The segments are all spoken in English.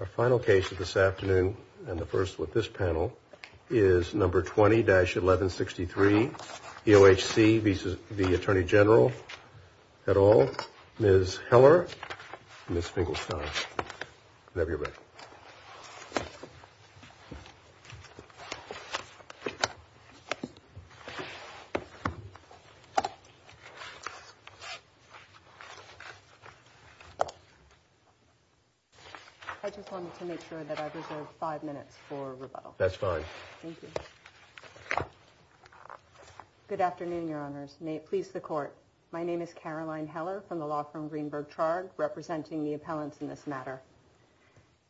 Our final case of this afternoon, and the first with this panel, is number 20-1163 EOHC v. Attorney General et al. Ms. Heller and Ms. Finkelstein. Whenever you're ready. I just wanted to make sure that I've reserved five minutes for rebuttal. That's fine. Thank you. Good afternoon, Your Honors. May it please the Court. My name is Caroline Heller from the law firm Greenberg-Trarg, representing the appellants in this matter.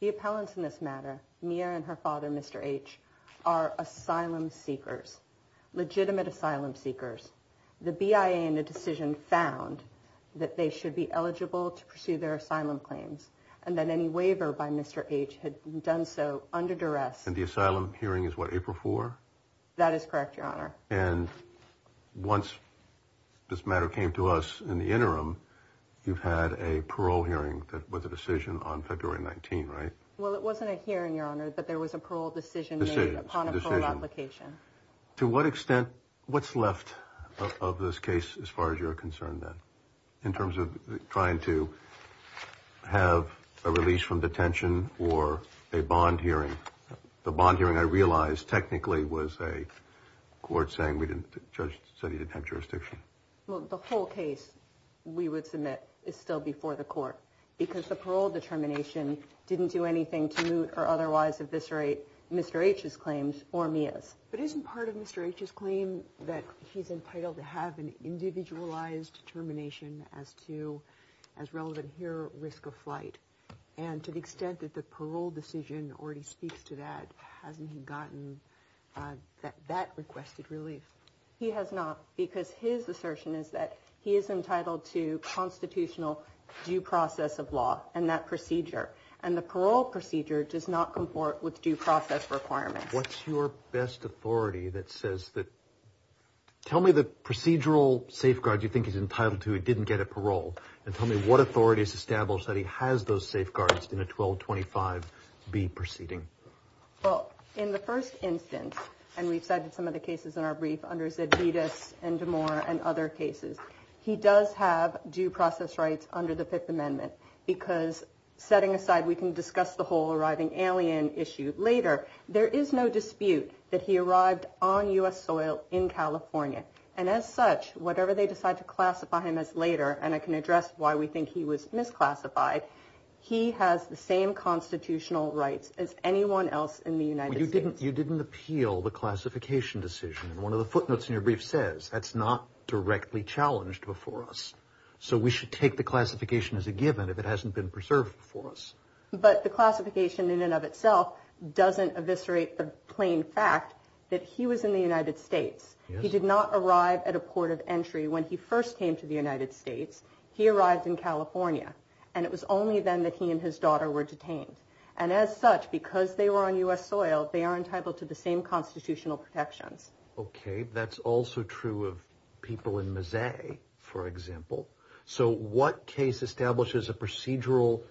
The appellants in this matter, Mia and her father, Mr. H., are asylum seekers, legitimate asylum seekers. The BIA in the decision found that they should be eligible to pursue their asylum claims, and that any waiver by Mr. H. had done so under duress. And the asylum hearing is, what, April 4? That is correct, Your Honor. And once this matter came to us in the interim, you've had a parole hearing with a decision on February 19, right? Well, it wasn't a hearing, Your Honor, but there was a parole decision made upon a parole application. To what extent, what's left of this case as far as you're concerned, then, in terms of trying to have a release from detention or a bond hearing? The bond hearing, I realize, technically was a court saying we didn't, the judge said he didn't have jurisdiction. Well, the whole case, we would submit, is still before the Court, because the parole determination didn't do anything to moot or otherwise eviscerate Mr. H.'s claims or Mia's. But isn't part of Mr. H.'s claim that he's entitled to have an individualized determination as to, as relevant here, risk of flight? And to the extent that the parole decision already speaks to that, hasn't he gotten that requested relief? He has not, because his assertion is that he is entitled to constitutional due process of law and that procedure. And the parole procedure does not comport with due process requirements. What's your best authority that says that, tell me the procedural safeguards you think he's entitled to, he didn't get at parole. And tell me what authority is established that he has those safeguards in a 1225B proceeding. Well, in the first instance, and we've cited some of the cases in our brief under Zedidis and Damore and other cases. He does have due process rights under the Fifth Amendment, because setting aside, we can discuss the whole arriving alien issue later. There is no dispute that he arrived on U.S. soil in California. And as such, whatever they decide to classify him as later, and I can address why we think he was misclassified. He has the same constitutional rights as anyone else in the United States. You didn't, you didn't appeal the classification decision. And one of the footnotes in your brief says that's not directly challenged before us. So we should take the classification as a given if it hasn't been preserved for us. But the classification in and of itself doesn't eviscerate the plain fact that he was in the United States. He did not arrive at a port of entry when he first came to the United States. He arrived in California. And it was only then that he and his daughter were detained. And as such, because they were on U.S. soil, they are entitled to the same constitutional protections. OK, that's also true of people in Mazzei, for example. So what case establishes a procedural?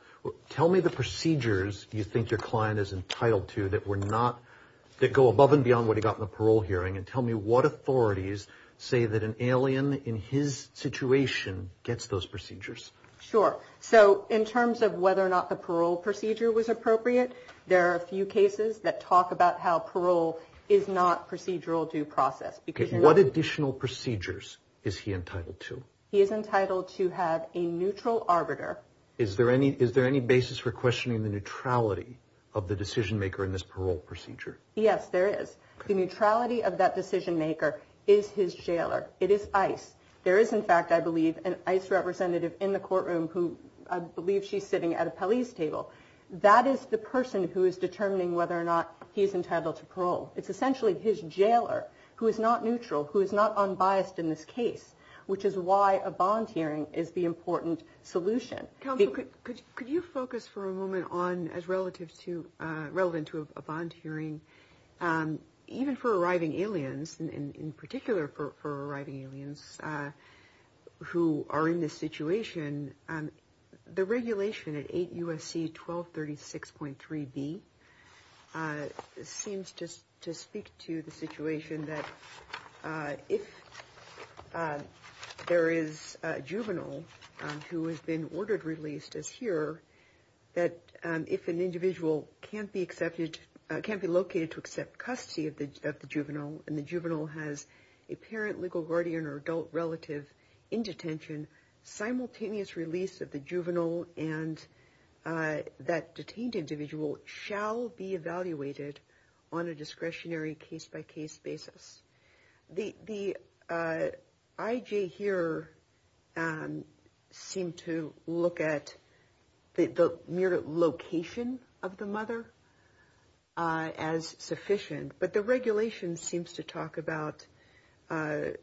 Tell me the procedures you think your client is entitled to that were not, that go above and beyond what he got in the parole hearing. And tell me what authorities say that an alien in his situation gets those procedures. Sure. So in terms of whether or not the parole procedure was appropriate, there are a few cases that talk about how parole is not procedural due process. What additional procedures is he entitled to? He is entitled to have a neutral arbiter. Is there any basis for questioning the neutrality of the decision maker in this parole procedure? Yes, there is. The neutrality of that decision maker is his jailer. It is ICE. There is, in fact, I believe, an ICE representative in the courtroom who I believe she's sitting at a police table. That is the person who is determining whether or not he is entitled to parole. It's essentially his jailer who is not neutral, who is not unbiased in this case, which is why a bond hearing is the important solution. Counsel, could you focus for a moment on, as relative to, relevant to a bond hearing, even for arriving aliens, in particular for arriving aliens who are in this situation, the regulation at 8 U.S.C. 1236.3b seems to speak to the situation that if there is a juvenile who has been ordered, released as here, that if an individual can't be accepted, can't be located to accept custody of the juvenile and the juvenile has a parent, legal guardian, or adult relative in detention, simultaneous release of the juvenile and that detained individual shall be evaluated on a discretionary case-by-case basis. The I.J. here seemed to look at the mere location of the mother as sufficient, but the regulation seems to talk about the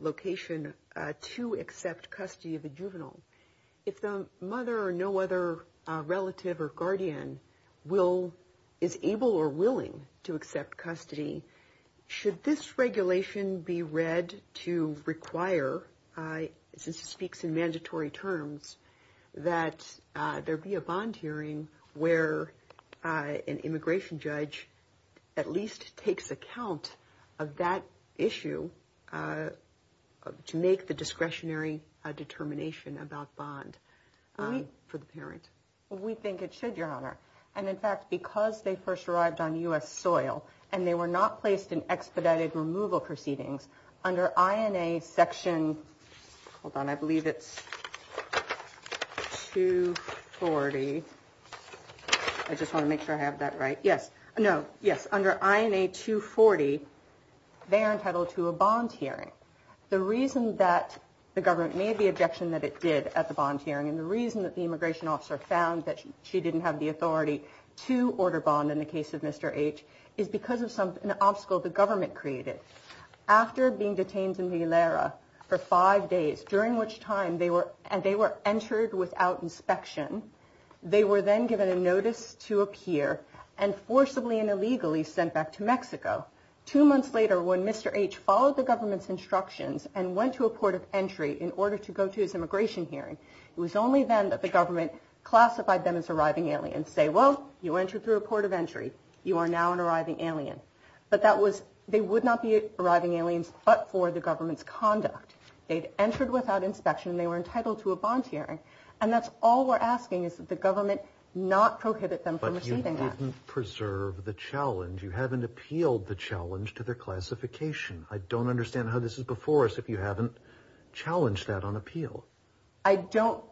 location to accept custody of the juvenile. If the mother or no other relative or guardian is able or willing to accept custody, should this regulation be read to require, since it speaks in mandatory terms, that there be a bond hearing where an immigration judge at least takes account of that issue to make the discretionary determination about bond for the parent? We think it should, Your Honor. And in fact, because they first arrived on U.S. soil and they were not placed in expedited removal proceedings, under INA section, hold on, I believe it's 240. I just want to make sure I have that right. Yes. No. Yes. Under INA 240, they are entitled to a bond hearing. The reason that the government made the objection that it did at the bond hearing and the reason that the immigration officer found that she didn't have the authority to order bond in the case of Mr. H is because of an obstacle the government created. After being detained in Vilara for five days, during which time they were entered without inspection, they were then given a notice to appear and forcibly and illegally sent back to Mexico. Two months later, when Mr. H followed the government's instructions and went to a port of entry in order to go to his immigration hearing, it was only then that the government classified them as arriving aliens. And say, well, you entered through a port of entry. You are now an arriving alien. But that was, they would not be arriving aliens but for the government's conduct. They'd entered without inspection and they were entitled to a bond hearing. And that's all we're asking is that the government not prohibit them from receiving that. But you didn't preserve the challenge. You haven't appealed the challenge to their classification. I don't understand how this is before us if you haven't challenged that on appeal. I don't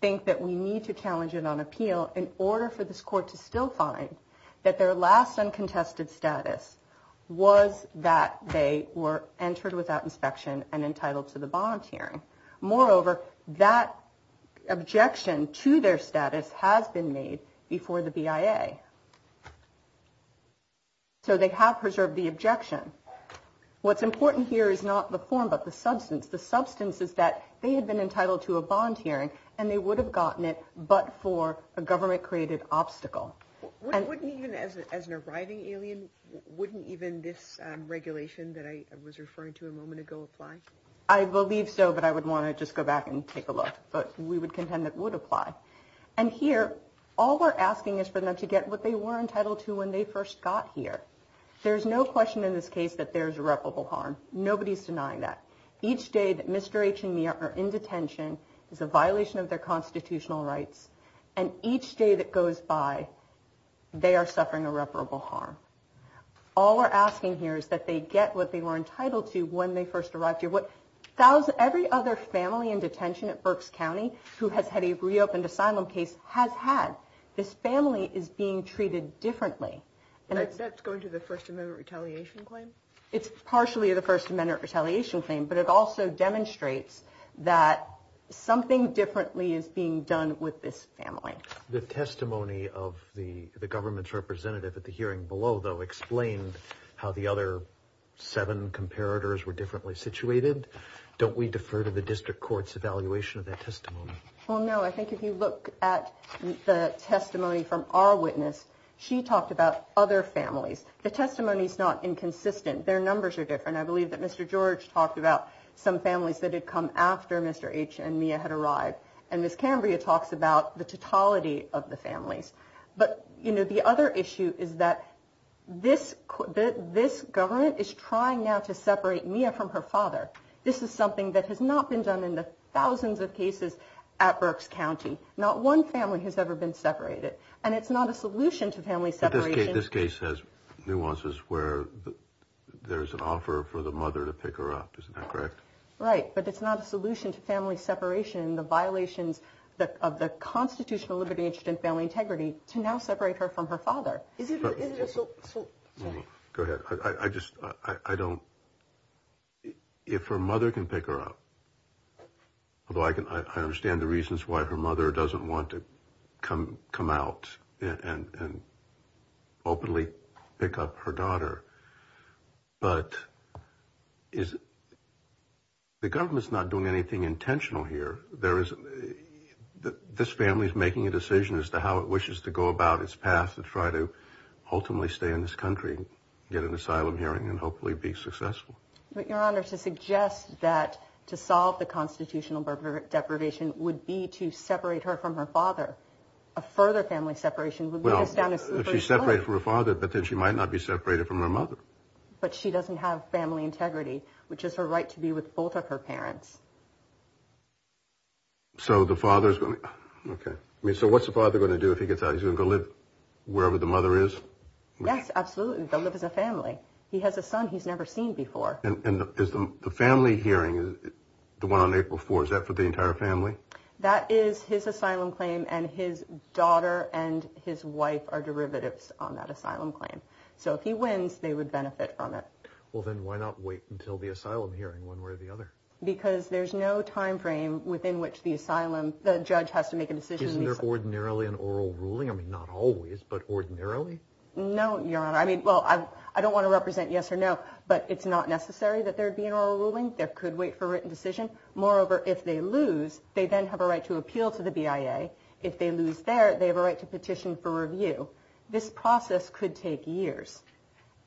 think that we need to challenge it on appeal in order for this court to still find that their last uncontested status was that they were entered without inspection and entitled to the bond hearing. Moreover, that objection to their status has been made before the BIA. So they have preserved the objection. What's important here is not the form but the substance. The substance is that they had been entitled to a bond hearing and they would have gotten it but for a government-created obstacle. Wouldn't even as an arriving alien, wouldn't even this regulation that I was referring to a moment ago apply? I believe so, but I would want to just go back and take a look. But we would contend it would apply. And here, all we're asking is for them to get what they were entitled to when they first got here. There's no question in this case that there's irreparable harm. Nobody's denying that. Each day that Mr. H and me are in detention is a violation of their constitutional rights, and each day that goes by, they are suffering irreparable harm. All we're asking here is that they get what they were entitled to when they first arrived here. Every other family in detention at Berks County who has had a reopened asylum case has had. This family is being treated differently. That's going to the First Amendment retaliation claim? It's partially the First Amendment retaliation claim, but it also demonstrates that something differently is being done with this family. The testimony of the government's representative at the hearing below, though, explained how the other seven comparators were differently situated. Don't we defer to the district court's evaluation of that testimony? Well, no. I think if you look at the testimony from our witness, she talked about other families. The testimony is not inconsistent. Their numbers are different. I believe that Mr. George talked about some families that had come after Mr. H and Mia had arrived, and Ms. Cambria talks about the totality of the families. But, you know, the other issue is that this government is trying now to separate Mia from her father. This is something that has not been done in the thousands of cases at Berks County. Not one family has ever been separated, and it's not a solution to family separation. This case has nuances where there's an offer for the mother to pick her up. Isn't that correct? Right, but it's not a solution to family separation. The violations of the constitutional liberty, interest, and family integrity to now separate her from her father. Go ahead. I just, I don't, if her mother can pick her up, although I understand the reasons why her mother doesn't want to come out and openly pick up her daughter, but the government is not doing anything intentional here. This family is making a decision as to how it wishes to go about its path to try to ultimately stay in this country, get an asylum hearing, and hopefully be successful. But, Your Honor, to suggest that to solve the constitutional deprivation would be to separate her from her father, a further family separation would be just down the street. Well, if she's separated from her father, but then she might not be separated from her mother. But she doesn't have family integrity, which is her right to be with both of her parents. So the father's going to, okay. I mean, so what's the father going to do if he gets out? He's going to go live wherever the mother is? Yes, absolutely. They'll live as a family. He has a son he's never seen before. And the family hearing, the one on April 4th, is that for the entire family? That is his asylum claim, and his daughter and his wife are derivatives on that asylum claim. So if he wins, they would benefit from it. Well, then why not wait until the asylum hearing, one way or the other? Because there's no time frame within which the judge has to make a decision. Isn't there ordinarily an oral ruling? I mean, not always, but ordinarily? No, Your Honor. I mean, well, I don't want to represent yes or no, but it's not necessary that there would be an oral ruling. There could wait for a written decision. Moreover, if they lose, they then have a right to appeal to the BIA. If they lose there, they have a right to petition for review. This process could take years,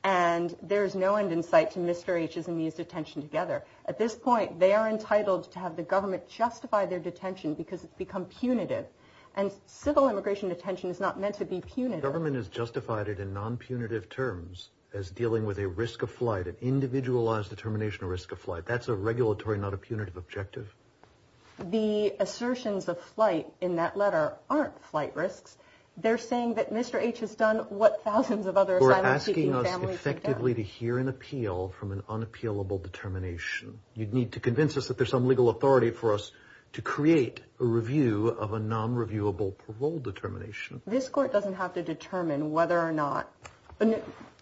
and there's no end in sight to Mr. H's and me's detention together. At this point, they are entitled to have the government justify their detention because it's become punitive. And civil immigration detention is not meant to be punitive. The government has justified it in non-punitive terms as dealing with a risk of flight, an individualized determination of risk of flight. That's a regulatory, not a punitive objective. The assertions of flight in that letter aren't flight risks. They're saying that Mr. H has done what thousands of other asylum-seeking families have done. ...to hear an appeal from an unappealable determination. You'd need to convince us that there's some legal authority for us to create a review of a non-reviewable parole determination. This Court doesn't have to determine whether or not...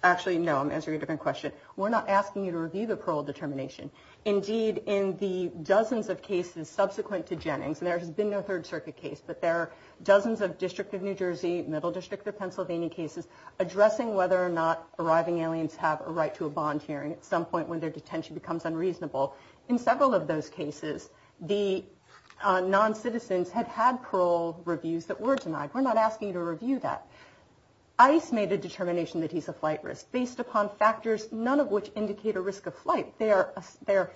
Actually, no, I'm answering a different question. We're not asking you to review the parole determination. Indeed, in the dozens of cases subsequent to Jennings, and there has been no Third Circuit case, but there are dozens of District of New Jersey, Middle District of Pennsylvania cases addressing whether or not arriving aliens have a right to a bond hearing at some point when their detention becomes unreasonable. In several of those cases, the non-citizens had had parole reviews that were denied. We're not asking you to review that. ICE made a determination that he's a flight risk based upon factors, none of which indicate a risk of flight. They are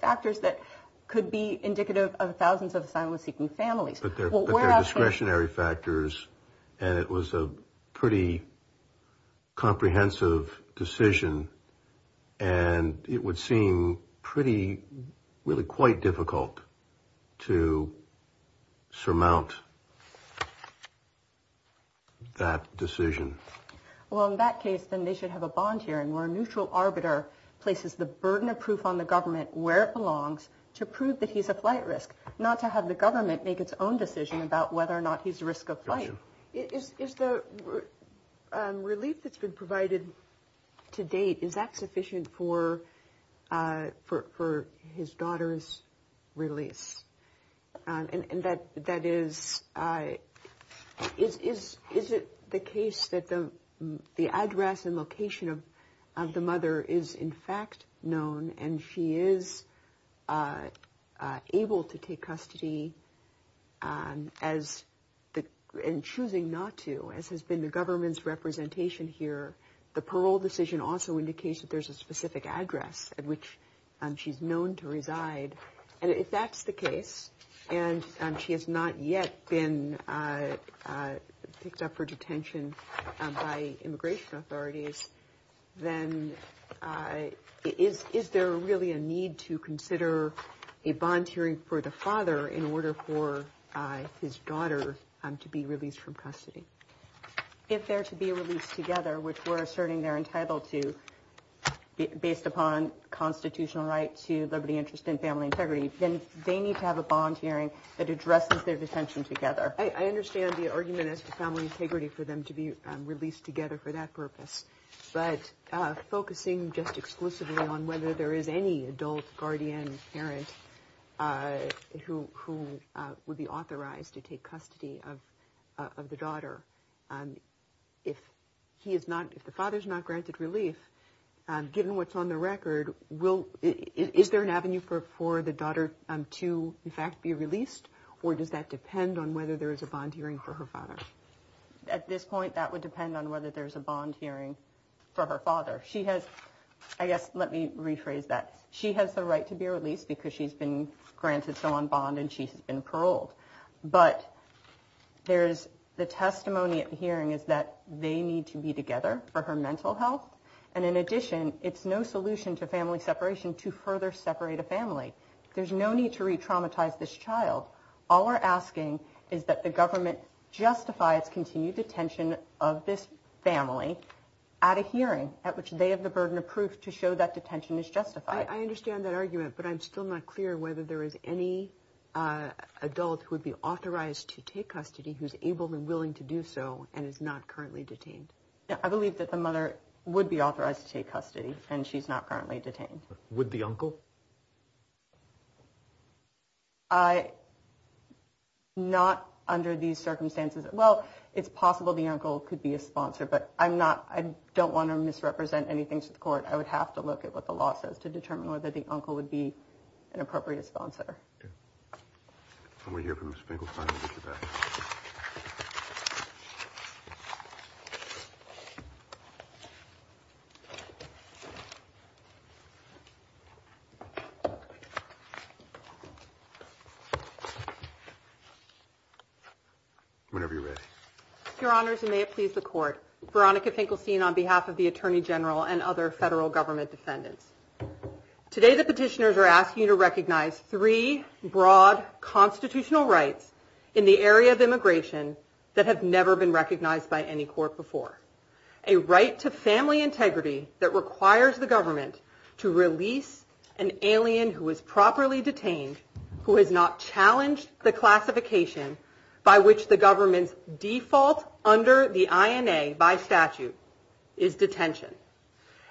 factors that could be indicative of thousands of asylum-seeking families. But they're discretionary factors, and it was a pretty comprehensive decision, and it would seem pretty, really quite difficult to surmount that decision. Well, in that case, then they should have a bond hearing where a neutral arbiter places the burden of proof on the government where it belongs to prove that he's a flight risk, not to have the government make its own decision about whether or not he's a risk of flight. Is the relief that's been provided to date, is that sufficient for his daughter's release? And that is, is it the case that the address and location of the mother is in fact known and she is able to take custody and choosing not to, as has been the government's representation here? The parole decision also indicates that there's a specific address at which she's known to reside. And if that's the case, and she has not yet been picked up for detention by immigration authorities, then is there really a need to consider a bond hearing for the father in order for his daughter to be released from custody? If they're to be released together, which we're asserting they're entitled to, based upon constitutional right to liberty, interest, and family integrity, then they need to have a bond hearing that addresses their detention together. I understand the argument as to family integrity for them to be released together for that purpose. But focusing just exclusively on whether there is any adult guardian parent who would be authorized to take custody of the daughter, if the father's not granted relief, given what's on the record, is there an avenue for the daughter to, in fact, be released? Or does that depend on whether there is a bond hearing for her father? At this point, that would depend on whether there's a bond hearing for her father. She has, I guess, let me rephrase that. She has the right to be released because she's been granted bond and she's been paroled. But there's the testimony at the hearing is that they need to be together for her mental health. And in addition, it's no solution to family separation to further separate a family. There's no need to re-traumatize this child. All we're asking is that the government justify its continued detention of this family at a hearing at which they have the burden of proof to show that detention is justified. I understand that argument, but I'm still not clear whether there is any adult who would be authorized to take custody who's able and willing to do so and is not currently detained. I believe that the mother would be authorized to take custody and she's not currently detained. Would the uncle? Not under these circumstances. Well, it's possible the uncle could be a sponsor, but I don't want to misrepresent anything to the court. I would have to look at what the law says to determine whether the uncle would be an appropriate sponsor. When we hear from Ms. Finkelstein, we'll get you back. Whenever you're ready. Your Honors, and may it please the court, Veronica Finkelstein on behalf of the Attorney General and other federal government defendants. Today the petitioners are asking you to recognize three broad constitutional rights in the area of immigration that have never been recognized by any court before. A right to family integrity that requires the government to release an alien who is properly detained, who has not challenged the classification by which the government's default under the INA by statute is detention.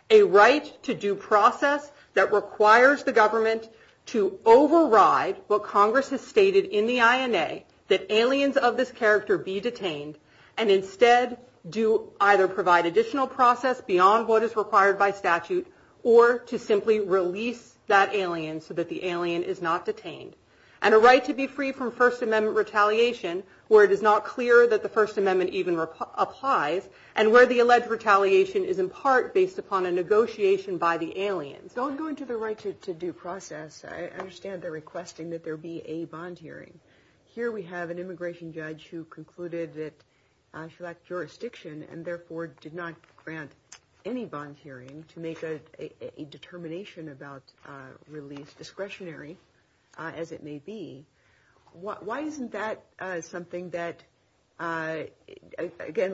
A right to due process that requires the government to override what Congress has stated in the INA that aliens of this character be detained and instead do either provide additional process beyond what is required by statute or to simply release that alien so that the alien is not detained. And a right to be free from First Amendment retaliation where it is not clear that the First Amendment even applies and where the alleged retaliation is in part based upon a negotiation by the aliens. Don't go into the right to due process. I understand they're requesting that there be a bond hearing. Here we have an immigration judge who concluded that she lacked jurisdiction and therefore did not grant any bond hearing to make a determination about release discretionary as it may be. Why isn't that something that, again,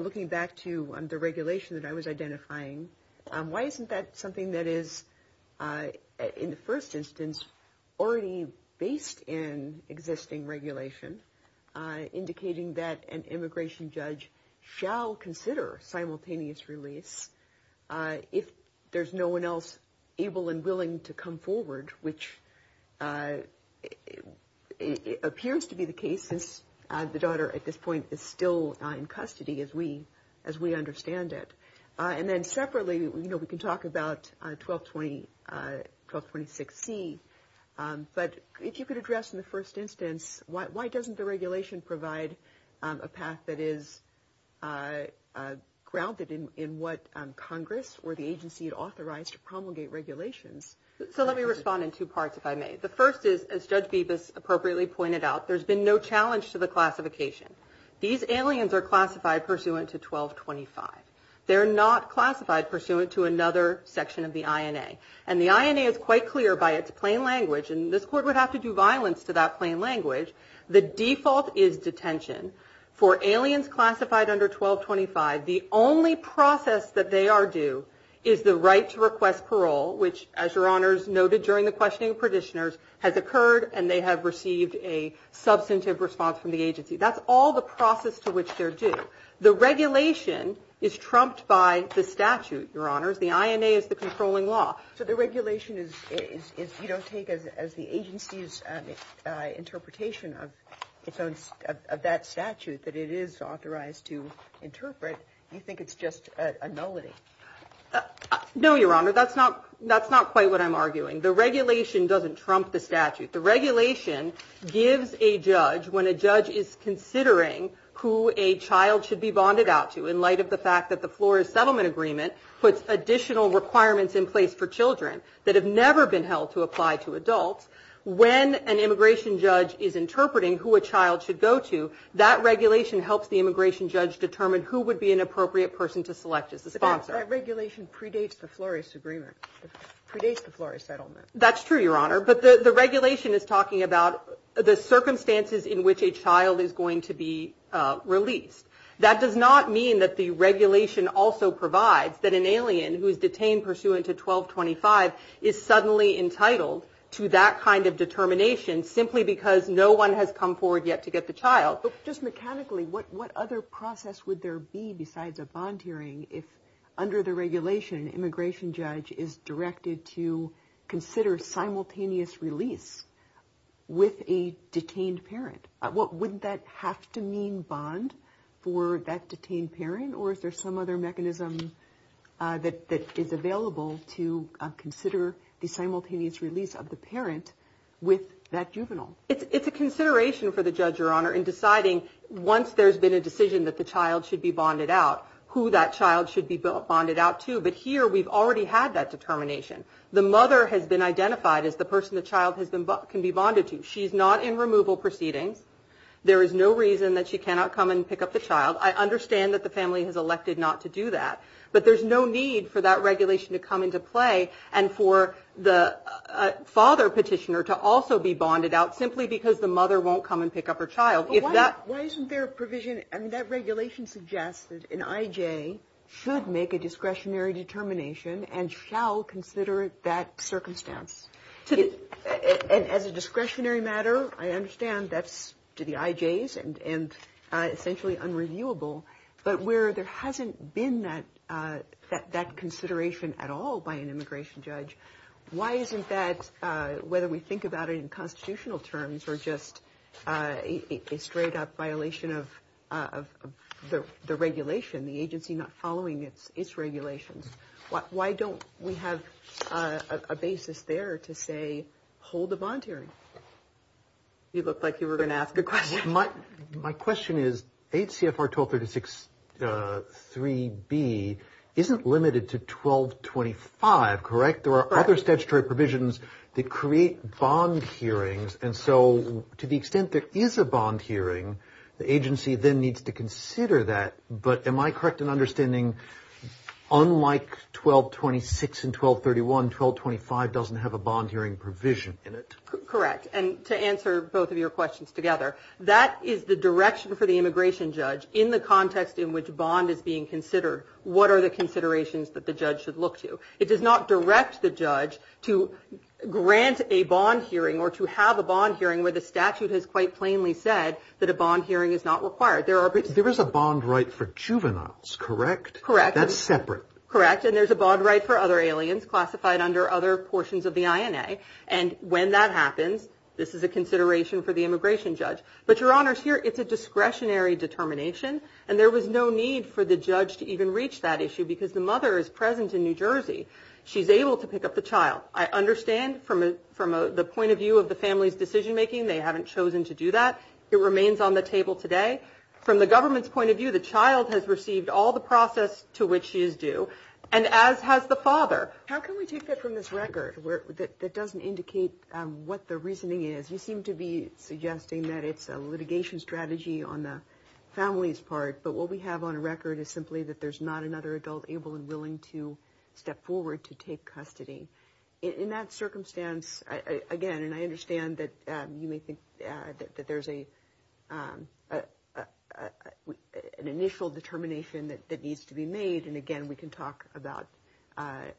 looking back to the regulation that I was identifying, why isn't that something that is in the first instance already based in existing regulation, indicating that an immigration judge shall consider simultaneous release if there's no one else able and willing to come forward, which appears to be the case since the daughter at this point is still in custody as we understand it. And then separately, you know, we can talk about 1226C. But if you could address in the first instance, why doesn't the regulation provide a path that is grounded in what Congress or the agency authorized to promulgate regulations? So let me respond in two parts, if I may. The first is, as Judge Bibas appropriately pointed out, there's been no challenge to the classification. These aliens are classified pursuant to 1225. They're not classified pursuant to another section of the INA. And the INA is quite clear by its plain language, and this court would have to do violence to that plain language. The default is detention. For aliens classified under 1225, the only process that they are due is the right to request parole, which, as Your Honors noted during the questioning of petitioners, has occurred, and they have received a substantive response from the agency. That's all the process to which they're due. The regulation is trumped by the statute, Your Honors. The INA is the controlling law. So the regulation, if you don't take it as the agency's interpretation of that statute that it is authorized to interpret, you think it's just a nullity? No, Your Honor. That's not quite what I'm arguing. The regulation doesn't trump the statute. The regulation gives a judge, when a judge is considering who a child should be bonded out to, in light of the fact that the Flores Settlement Agreement puts additional requirements in place for children that have never been held to apply to adults, when an immigration judge is interpreting who a child should go to, that regulation helps the immigration judge determine who would be an appropriate person to select as a sponsor. But that regulation predates the Flores Agreement. It predates the Flores Settlement. That's true, Your Honor. But the regulation is talking about the circumstances in which a child is going to be released. That does not mean that the regulation also provides that an alien who is detained pursuant to 1225 is suddenly entitled to that kind of determination simply because no one has come forward yet to get the child. Just mechanically, what other process would there be besides a bond hearing if, under the regulation, an immigration judge is directed to consider simultaneous release with a detained parent? Wouldn't that have to mean bond for that detained parent? Or is there some other mechanism that is available to consider the simultaneous release of the parent with that juvenile? It's a consideration for the judge, Your Honor, in deciding, once there's been a decision that the child should be bonded out, who that child should be bonded out to. But here, we've already had that determination. The mother has been identified as the person the child can be bonded to. She's not in removal proceedings. There is no reason that she cannot come and pick up the child. I understand that the family has elected not to do that, but there's no need for that regulation to come into play and for the father petitioner to also be bonded out simply because the mother won't come and pick up her child. Why isn't there a provision? I mean, that regulation suggests that an IJ should make a discretionary determination and shall consider that circumstance. And as a discretionary matter, I understand that's to the IJs and essentially unreviewable. But where there hasn't been that consideration at all by an immigration judge, why isn't that, whether we think about it in constitutional terms or just a straight-up violation of the regulation, the agency not following its regulations, why don't we have a basis there to say hold a bond hearing? You looked like you were going to ask a question. My question is, ACFR 1236.3b isn't limited to 1225, correct? There are other statutory provisions that create bond hearings. And so to the extent there is a bond hearing, the agency then needs to consider that. But am I correct in understanding unlike 1226 and 1231, 1225 doesn't have a bond hearing provision in it? Correct. And to answer both of your questions together, that is the direction for the immigration judge in the context in which bond is being considered. What are the considerations that the judge should look to? It does not direct the judge to grant a bond hearing or to have a bond hearing where the statute has quite plainly said that a bond hearing is not required. There is a bond right for juveniles, correct? Correct. That's separate. Correct. And there's a bond right for other aliens classified under other portions of the INA. And when that happens, this is a consideration for the immigration judge. But, Your Honors, here it's a discretionary determination, and there was no need for the judge to even reach that issue because the mother is present in New Jersey. She's able to pick up the child. I understand from the point of view of the family's decision-making they haven't chosen to do that. It remains on the table today. From the government's point of view, the child has received all the process to which she is due, and as has the father. How can we take that from this record that doesn't indicate what the reasoning is? You seem to be suggesting that it's a litigation strategy on the family's part, but what we have on record is simply that there's not another adult able and willing to step forward to take custody. In that circumstance, again, and I understand that you may think that there's an initial determination that needs to be made, and, again, we can talk about an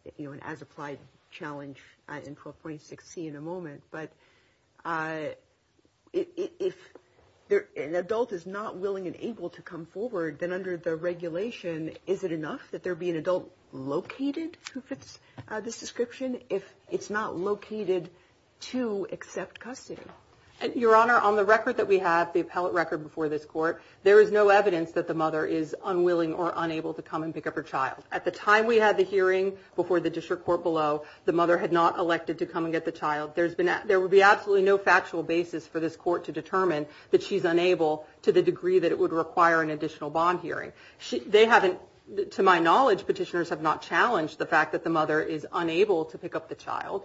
as-applied challenge in 12.6c in a moment. But if an adult is not willing and able to come forward, then under the regulation, is it enough that there be an adult located who fits this description if it's not located to accept custody? Your Honor, on the record that we have, the appellate record before this court, there is no evidence that the mother is unwilling or unable to come and pick up her child. At the time we had the hearing before the district court below, the mother had not elected to come and get the child. There would be absolutely no factual basis for this court to determine that she's unable to the degree that it would require an additional bond hearing. They haven't, to my knowledge, petitioners have not challenged the fact that the mother is unable to pick up the child.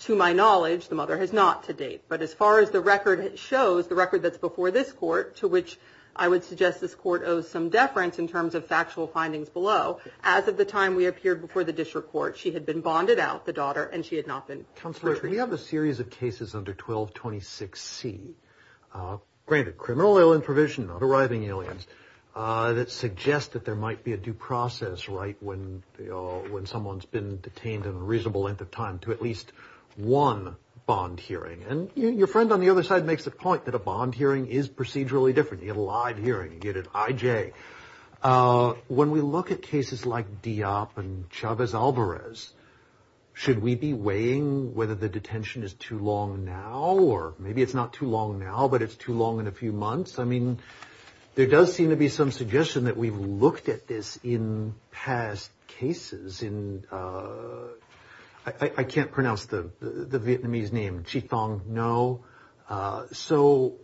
To my knowledge, the mother has not to date. But as far as the record shows, the record that's before this court, to which I would suggest this court owes some deference in terms of factual findings below, as of the time we appeared before the district court, she had been bonded out, the daughter, and she had not been treated. Counselor, we have a series of cases under 12.26c. Granted, criminal alien provision, not arriving aliens, that suggest that there might be a due process right when someone's been detained in a reasonable length of time to at least one bond hearing. And your friend on the other side makes the point that a bond hearing is procedurally different. You get a live hearing. You get an IJ. When we look at cases like Diop and Chavez-Alvarez, should we be weighing whether the detention is too long now or maybe it's not too long now, but it's too long in a few months? I mean, there does seem to be some suggestion that we've looked at this in past cases. I can't pronounce the Vietnamese name, Chi Thong Ngo. So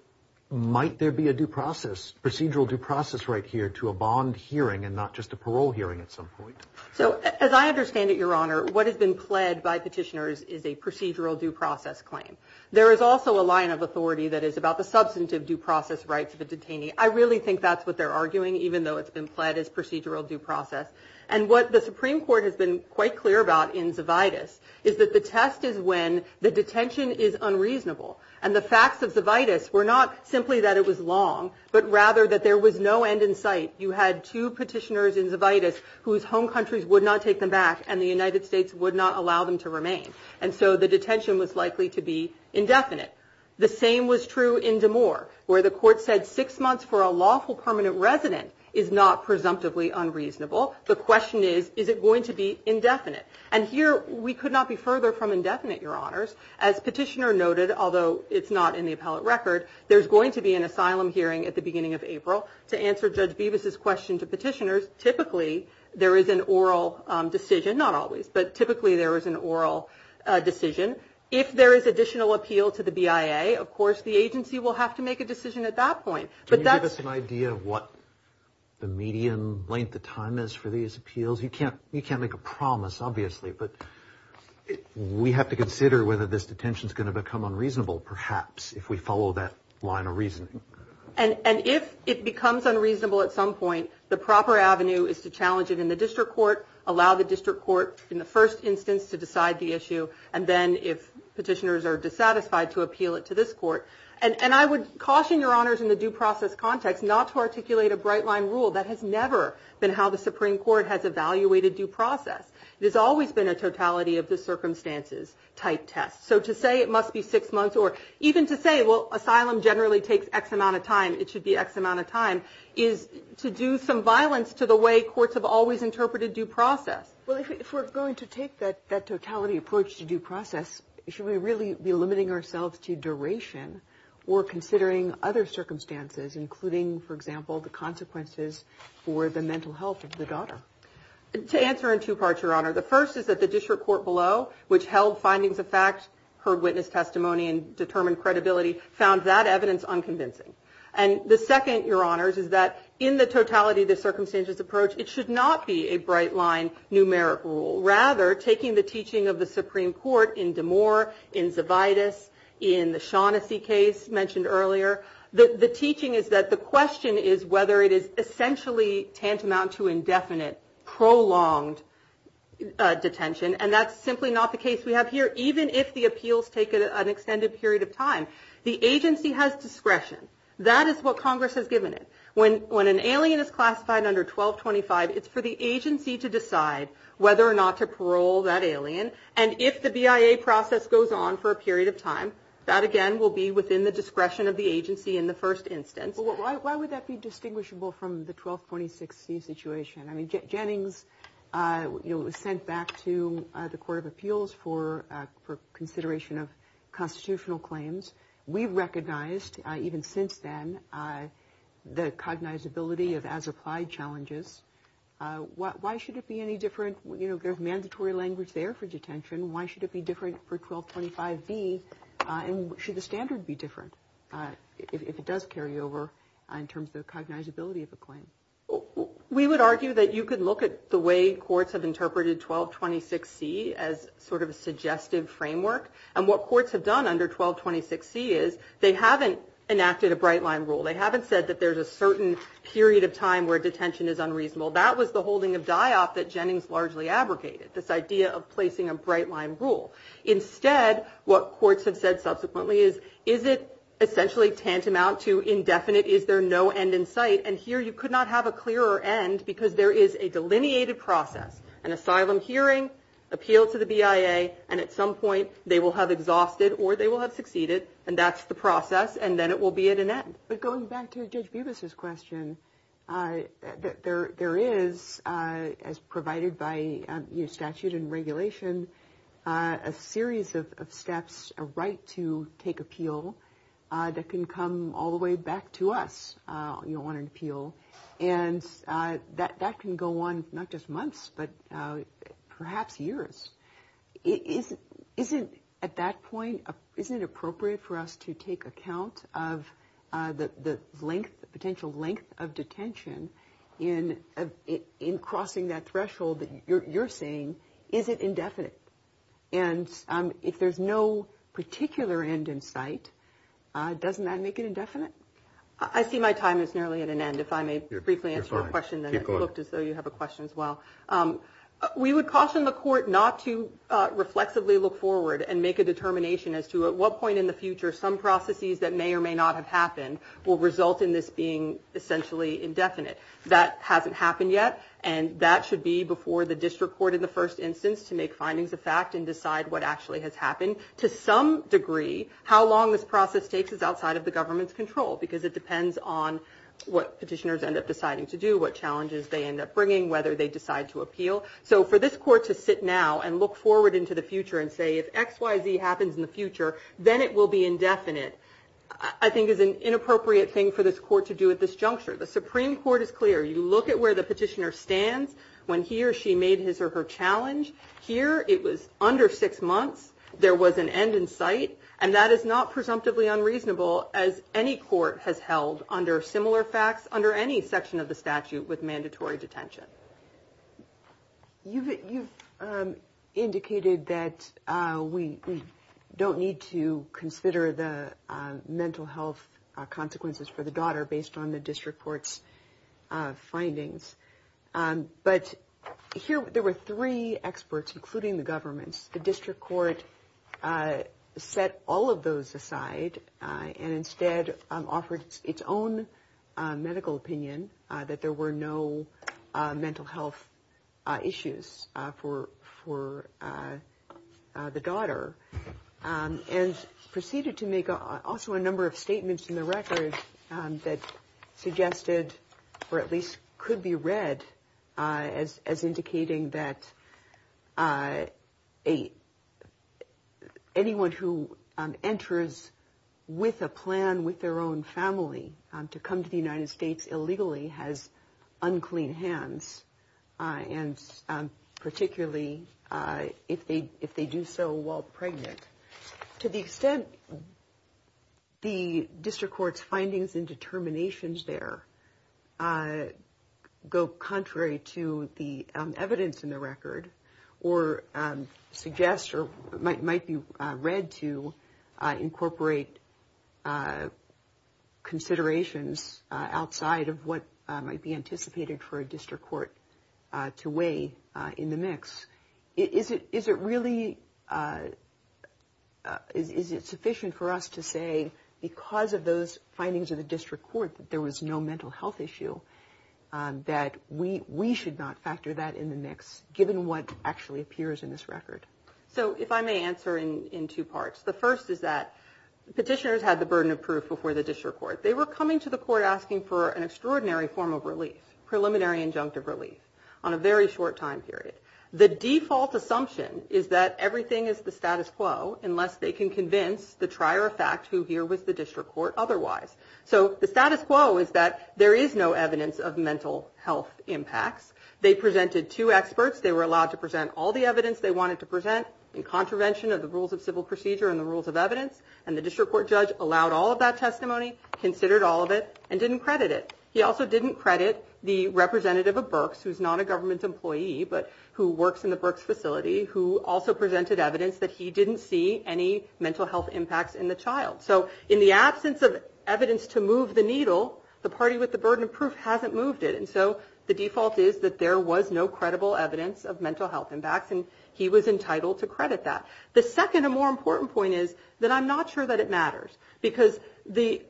might there be a due process, procedural due process right here to a bond hearing and not just a parole hearing at some point? So as I understand it, Your Honor, what has been pled by petitioners is a procedural due process claim. There is also a line of authority that is about the substantive due process rights of a detainee. I really think that's what they're arguing, even though it's been pled as procedural due process. And what the Supreme Court has been quite clear about in Zovitis is that the test is when the detention is unreasonable. And the facts of Zovitis were not simply that it was long, but rather that there was no end in sight. You had two petitioners in Zovitis whose home countries would not take them back and the United States would not allow them to remain. And so the detention was likely to be indefinite. The same was true in Damore, where the court said six months for a lawful permanent resident is not presumptively unreasonable. The question is, is it going to be indefinite? And here we could not be further from indefinite, Your Honors. As Petitioner noted, although it's not in the appellate record, there's going to be an asylum hearing at the beginning of April. To answer Judge Bevis' question to petitioners, typically there is an oral decision, not always, but typically there is an oral decision. If there is additional appeal to the BIA, of course the agency will have to make a decision at that point. Can you give us an idea of what the median length of time is for these appeals? You can't make a promise, obviously, but we have to consider whether this detention is going to become unreasonable, perhaps, if we follow that line of reasoning. And if it becomes unreasonable at some point, the proper avenue is to challenge it in the district court, allow the district court, in the first instance, to decide the issue, and then if petitioners are dissatisfied, to appeal it to this court. And I would caution Your Honors in the due process context not to articulate a bright line rule that has never been how the Supreme Court has evaluated due process. It has always been a totality of the circumstances type test. So to say it must be six months, or even to say, well, asylum generally takes X amount of time, it should be X amount of time, is to do some violence to the way courts have always interpreted due process. Well, if we're going to take that totality approach to due process, should we really be limiting ourselves to duration or considering other circumstances, including, for example, the consequences for the mental health of the daughter? To answer in two parts, Your Honor, the first is that the district court below, which held findings of fact, heard witness testimony, and determined credibility, found that evidence unconvincing. And the second, Your Honors, is that in the totality of the circumstances approach, it should not be a bright line numeric rule. Rather, taking the teaching of the Supreme Court in Damore, in Zavidas, in the Shaughnessy case mentioned earlier, the teaching is that the question is whether it is essentially tantamount to indefinite, prolonged detention, and that's simply not the case we have here, even if the appeals take an extended period of time. The agency has discretion. That is what Congress has given it. When an alien is classified under 1225, it's for the agency to decide whether or not to parole that alien. And if the BIA process goes on for a period of time, that again will be within the discretion of the agency in the first instance. Why would that be distinguishable from the 1226C situation? I mean, Jennings, you know, was sent back to the Court of Appeals for consideration of constitutional claims. We've recognized, even since then, the cognizability of as-applied challenges. Why should it be any different? You know, there's mandatory language there for detention. Why should it be different for 1225B? And should the standard be different if it does carry over in terms of the cognizability of a claim? We would argue that you could look at the way courts have interpreted 1226C as sort of a suggestive framework. And what courts have done under 1226C is they haven't enacted a bright-line rule. They haven't said that there's a certain period of time where detention is unreasonable. That was the holding of DIOP that Jennings largely abrogated, this idea of placing a bright-line rule. Instead, what courts have said subsequently is, is it essentially tantamount to indefinite, is there no end in sight? And here you could not have a clearer end because there is a delineated process, an asylum hearing, appeal to the BIA, and at some point they will have exhausted or they will have succeeded, and that's the process, and then it will be at an end. But going back to Judge Bubas's question, there is, as provided by statute and regulation, a series of steps, a right to take appeal that can come all the way back to us. You don't want an appeal. And that can go on not just months but perhaps years. Isn't, at that point, isn't it appropriate for us to take account of the length, the potential length of detention in crossing that threshold that you're saying? Is it indefinite? And if there's no particular end in sight, doesn't that make it indefinite? I see my time is nearly at an end. If I may briefly answer your question, then it looked as though you have a question as well. We would caution the court not to reflexively look forward and make a determination as to at what point in the future some processes that may or may not have happened will result in this being essentially indefinite. That hasn't happened yet, and that should be before the district court in the first instance to make findings of fact and decide what actually has happened. To some degree, how long this process takes is outside of the government's control because it depends on what petitioners end up deciding to do, what challenges they end up bringing, whether they decide to appeal. So for this court to sit now and look forward into the future and say, if X, Y, Z happens in the future, then it will be indefinite, I think is an inappropriate thing for this court to do at this juncture. The Supreme Court is clear. You look at where the petitioner stands when he or she made his or her challenge. Here it was under six months. There was an end in sight, and that is not presumptively unreasonable as any court has held under similar facts, under any section of the statute with mandatory detention. You've indicated that we don't need to consider the mental health consequences for the daughter based on the district court's findings. But here there were three experts, including the government's. The district court set all of those aside and instead offered its own medical opinion that there were no mental health issues for the daughter and proceeded to make also a number of statements in the record that suggested, or at least could be read, as indicating that anyone who enters with a plan with their own family to come to the United States illegally has unclean hands, and particularly if they do so while pregnant. To the extent the district court's findings and determinations there go contrary to the evidence in the record or suggest or might be read to incorporate considerations outside of what might be anticipated for a district court to weigh in the mix, is it really sufficient for us to say because of those findings of the district court that there was no mental health issue that we should not factor that in the mix given what actually appears in this record? So if I may answer in two parts. The first is that petitioners had the burden of proof before the district court. They were coming to the court asking for an extraordinary form of relief, preliminary injunctive relief on a very short time period. The default assumption is that everything is the status quo unless they can convince the trier of fact who here was the district court otherwise. So the status quo is that there is no evidence of mental health impacts. They presented two experts. They were allowed to present all the evidence they wanted to present in contravention of the rules of civil procedure and the rules of evidence, and the district court judge allowed all of that testimony, considered all of it, and didn't credit it. He also didn't credit the representative of Berks, who is not a government employee but who works in the Berks facility, who also presented evidence that he didn't see any mental health impacts in the child. So in the absence of evidence to move the needle, the party with the burden of proof hasn't moved it, and so the default is that there was no credible evidence of mental health impacts, and he was entitled to credit that. The second and more important point is that I'm not sure that it matters because the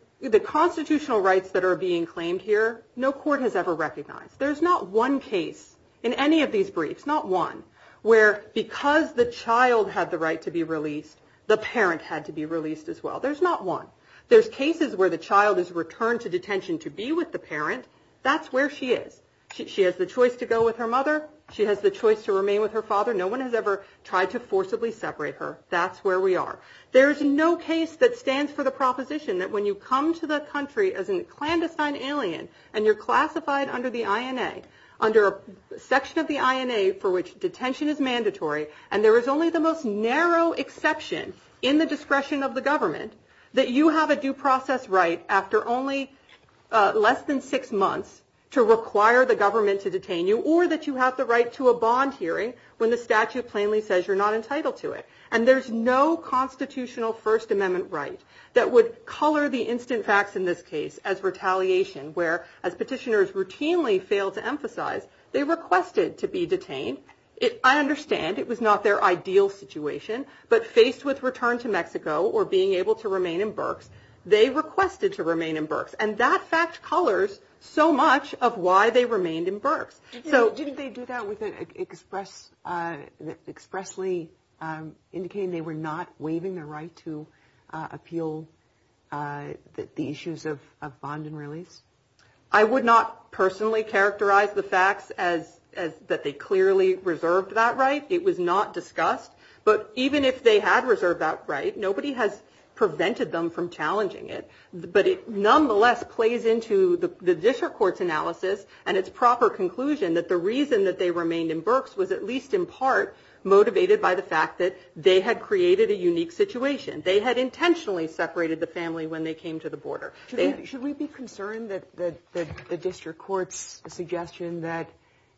constitutional rights that are being claimed here, no court has ever recognized. There's not one case in any of these briefs, not one, where because the child had the right to be released, the parent had to be released as well. There's not one. There's cases where the child is returned to detention to be with the parent. That's where she is. She has the choice to go with her mother. She has the choice to remain with her father. No one has ever tried to forcibly separate her. That's where we are. There is no case that stands for the proposition that when you come to the country as a clandestine alien and you're classified under the INA, under a section of the INA for which detention is mandatory and there is only the most narrow exception in the discretion of the government, that you have a due process right after only less than six months to require the government to detain you or that you have the right to a bond hearing when the statute plainly says you're not entitled to it. And there's no constitutional First Amendment right that would color the instant facts in this case as retaliation, where as petitioners routinely fail to emphasize, they requested to be detained. I understand it was not their ideal situation, but faced with return to Mexico or being able to remain in Berks, they requested to remain in Berks. And that fact colors so much of why they remained in Berks. So didn't they do that with expressly indicating they were not waiving their right to appeal the issues of bond and release? I would not personally characterize the facts as that they clearly reserved that right. It was not discussed. But even if they had reserved that right, nobody has prevented them from challenging it. But it nonetheless plays into the district court's analysis and its proper conclusion that the reason that they remained in Berks was at least in part motivated by the fact that they had created a unique situation. They had intentionally separated the family when they came to the border. Should we be concerned that the district court's suggestion that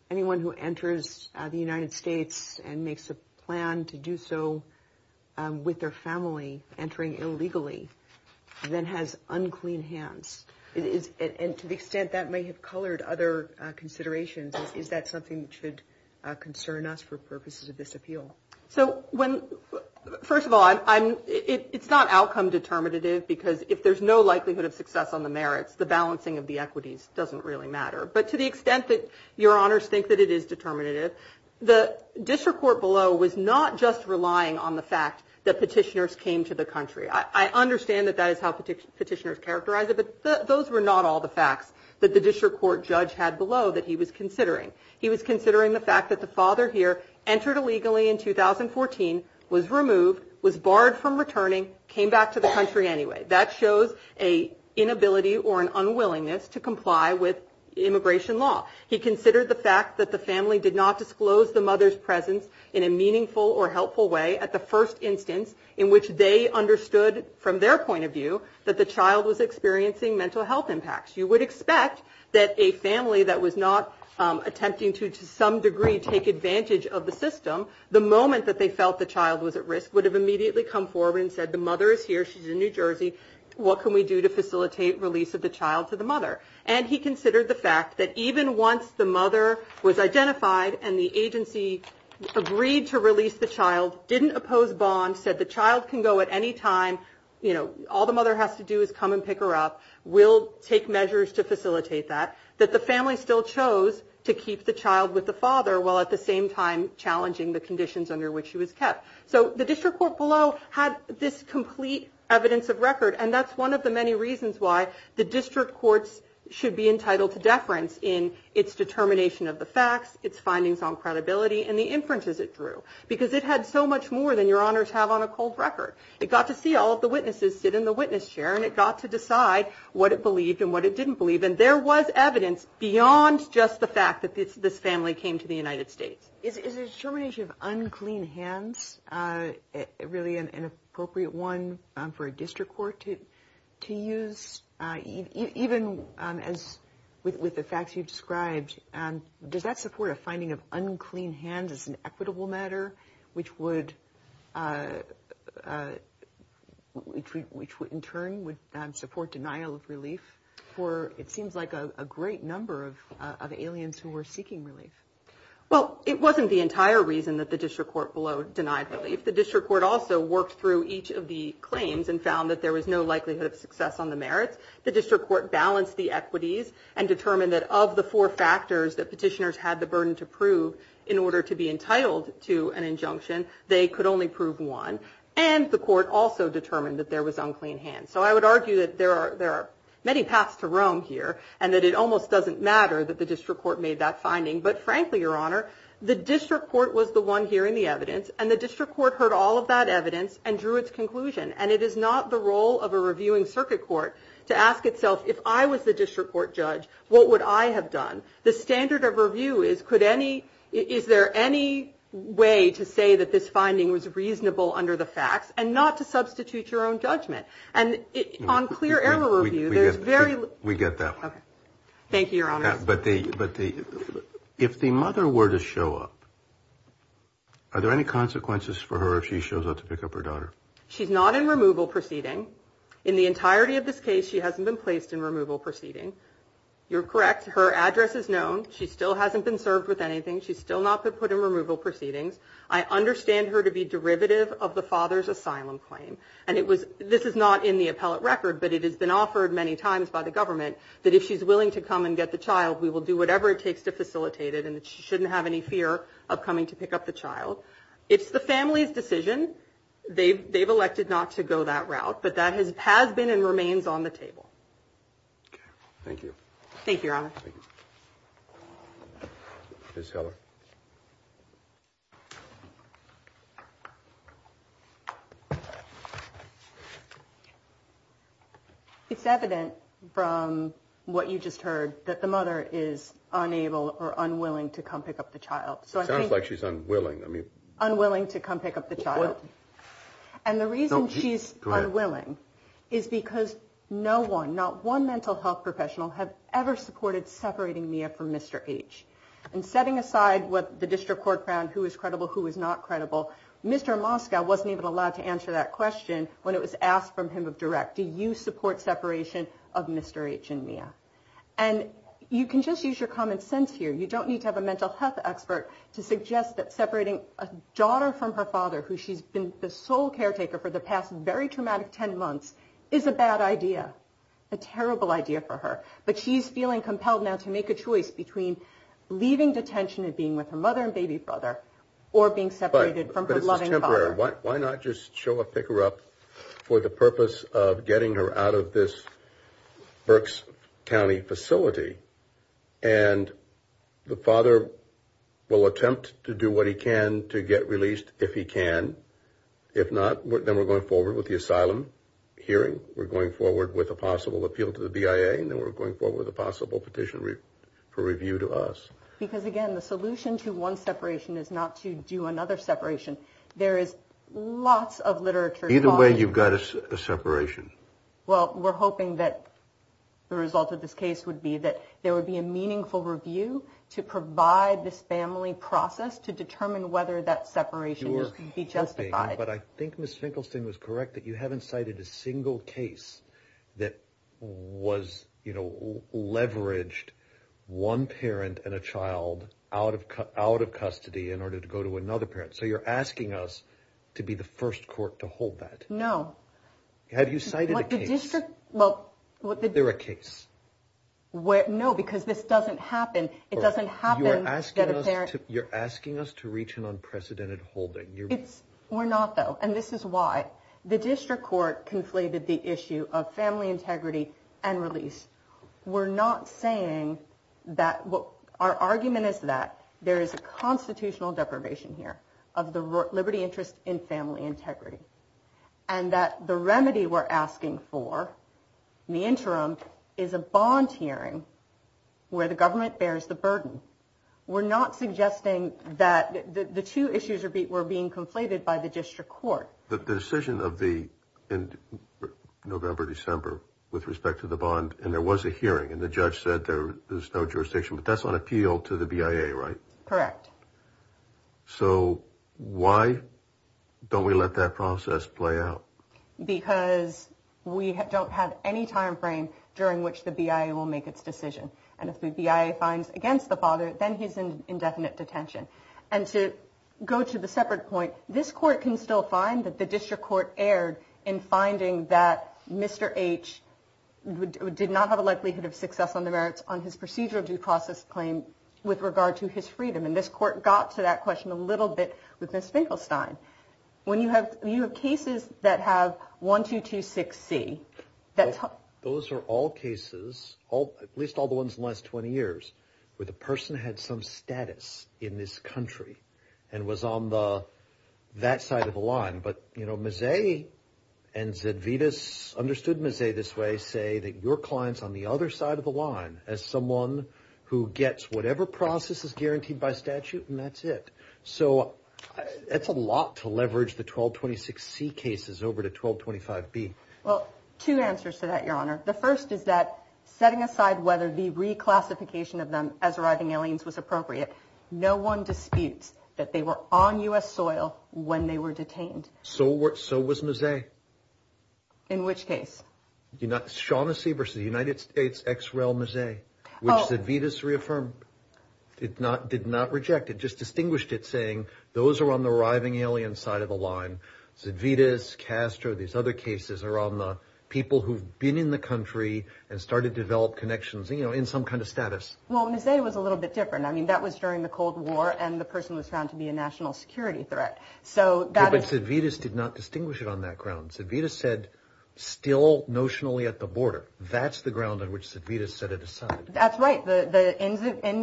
anyone who enters the United States and makes a plan to do so with their family entering illegally then has unclean hands? And to the extent that may have colored other considerations, is that something that should concern us for purposes of this appeal? So first of all, it's not outcome determinative because if there's no likelihood of success on the merits, the balancing of the equities doesn't really matter. But to the extent that your honors think that it is determinative, the district court below was not just relying on the fact that petitioners came to the country. I understand that that is how petitioners characterize it, but those were not all the facts that the district court judge had below that he was considering. He was considering the fact that the father here entered illegally in 2014, was removed, was barred from returning, came back to the country anyway. That shows an inability or an unwillingness to comply with immigration law. He considered the fact that the family did not disclose the mother's presence in a meaningful or helpful way at the first instance in which they understood from their point of view that the child was experiencing mental health impacts. You would expect that a family that was not attempting to, to some degree, take advantage of the system, the moment that they felt the child was at risk would have immediately come forward and said, the mother is here, she's in New Jersey, what can we do to facilitate release of the child to the mother? And he considered the fact that even once the mother was identified and the agency agreed to release the child, didn't oppose bond, said the child can go at any time, all the mother has to do is come and pick her up, we'll take measures to facilitate that, that the family still chose to keep the child with the father while at the same time challenging the conditions under which she was kept. So the district court below had this complete evidence of record, and that's one of the many reasons why the district courts should be entitled to deference in its determination of the facts, its findings on credibility, and the inferences it drew. Because it had so much more than your honors have on a cold record. It got to see all of the witnesses sit in the witness chair and it got to decide what it believed and what it didn't believe, and there was evidence beyond just the fact that this family came to the United States. Is the determination of unclean hands really an appropriate one for a district court to use? Even with the facts you described, does that support a finding of unclean hands as an equitable matter, which would in turn support denial of relief for it seems like a great number of aliens who were seeking relief? Well, it wasn't the entire reason that the district court below denied relief. The district court also worked through each of the claims and found that there was no likelihood of success on the merits. The district court balanced the equities and determined that of the four factors that petitioners had the burden to prove in order to be entitled to an injunction, they could only prove one. And the court also determined that there was unclean hands. So I would argue that there are many paths to roam here and that it almost doesn't matter that the district court made that finding. But frankly, Your Honor, the district court was the one hearing the evidence and the district court heard all of that evidence and drew its conclusion. And it is not the role of a reviewing circuit court to ask itself, if I was the district court judge, what would I have done? The standard of review is, could any is there any way to say that this finding was reasonable under the facts and not to substitute your own judgment? And on clear error review, there's very we get that. Thank you, Your Honor. But the but the if the mother were to show up. Are there any consequences for her if she shows up to pick up her daughter? She's not in removal proceeding in the entirety of this case. She hasn't been placed in removal proceeding. You're correct. Her address is known. She still hasn't been served with anything. She's still not put in removal proceedings. I understand her to be derivative of the father's asylum claim. And it was this is not in the appellate record. But it has been offered many times by the government that if she's willing to come and get the child, we will do whatever it takes to facilitate it. And she shouldn't have any fear of coming to pick up the child. It's the family's decision. They've they've elected not to go that route. But that has has been and remains on the table. Thank you. Thank you. It's evident from what you just heard that the mother is unable or unwilling to come pick up the child. So it sounds like she's unwilling, I mean, unwilling to come pick up the child. And the reason she's unwilling is because no one, not one mental health professional have ever supported the mother in any way. And setting aside what the district court found, who is credible, who is not credible. Mr. Moscow wasn't even allowed to answer that question when it was asked from him of direct. Do you support separation of Mr. H and Mia? And you can just use your common sense here. You don't need to have a mental health expert to suggest that separating a daughter from her father, who she's been the sole caretaker for the past very traumatic 10 months, is a bad idea, a terrible idea for her. But she's feeling compelled now to make a choice between leaving detention and being with her mother and baby brother or being separated from her loving father. But this is temporary. Why not just show up, pick her up for the purpose of getting her out of this Berks County facility? And the father will attempt to do what he can to get released if he can. If not, then we're going forward with the asylum hearing. We're going forward with a possible appeal to the BIA. And then we're going forward with a possible petition for review to us. Because, again, the solution to one separation is not to do another separation. There is lots of literature. Either way, you've got a separation. Well, we're hoping that the result of this case would be that there would be a meaningful review to provide this family process to determine whether that separation would be justified. But I think Ms. Finkelstein was correct that you haven't cited a single case that was, you know, leveraged one parent and a child out of custody in order to go to another parent. So you're asking us to be the first court to hold that. No. Have you cited a case? Well, the district. They're a case. No, because this doesn't happen. It doesn't happen that a parent. You're asking us to reach an unprecedented holding. We're not, though. And this is why. The district court conflated the issue of family integrity and release. We're not saying that what our argument is that there is a constitutional deprivation here of the liberty interest in family integrity. And that the remedy we're asking for in the interim is a bond hearing where the government bears the burden. We're not suggesting that the two issues were being conflated by the district court. The decision of the November-December with respect to the bond, and there was a hearing, and the judge said there's no jurisdiction, but that's on appeal to the BIA, right? Correct. So why don't we let that process play out? Because we don't have any timeframe during which the BIA will make its decision. And if the BIA finds against the father, then he's in indefinite detention. And to go to the separate point, this court can still find that the district court erred in finding that Mr. H did not have a likelihood of success on the merits on his procedural due process claim with regard to his freedom. And this court got to that question a little bit with Ms. Finkelstein. When you have cases that have 1226C. Those are all cases, at least all the ones in the last 20 years, where the person had some status in this country and was on that side of the line. But Mazzei and Zedvitas understood Mazzei this way, say that your client's on the other side of the line as someone who gets whatever process is guaranteed by statute, and that's it. So that's a lot to leverage the 1226C cases over to 1225B. Well, two answers to that, Your Honor. The first is that setting aside whether the reclassification of them as arriving aliens was appropriate, no one disputes that they were on U.S. soil when they were detained. So was Mazzei. In which case? Shaughnessy versus the United States ex-rail Mazzei, which Zedvitas reaffirmed. It did not reject it, just distinguished it, saying those are on the arriving alien side of the line. Zedvitas, Castro, these other cases are on the people who've been in the country and started to develop connections, you know, in some kind of status. Well, Mazzei was a little bit different. I mean, that was during the Cold War, and the person was found to be a national security threat. But Zedvitas did not distinguish it on that ground. Zedvitas said, still notionally at the border. That's the ground on which Zedvitas set it aside. That's right. In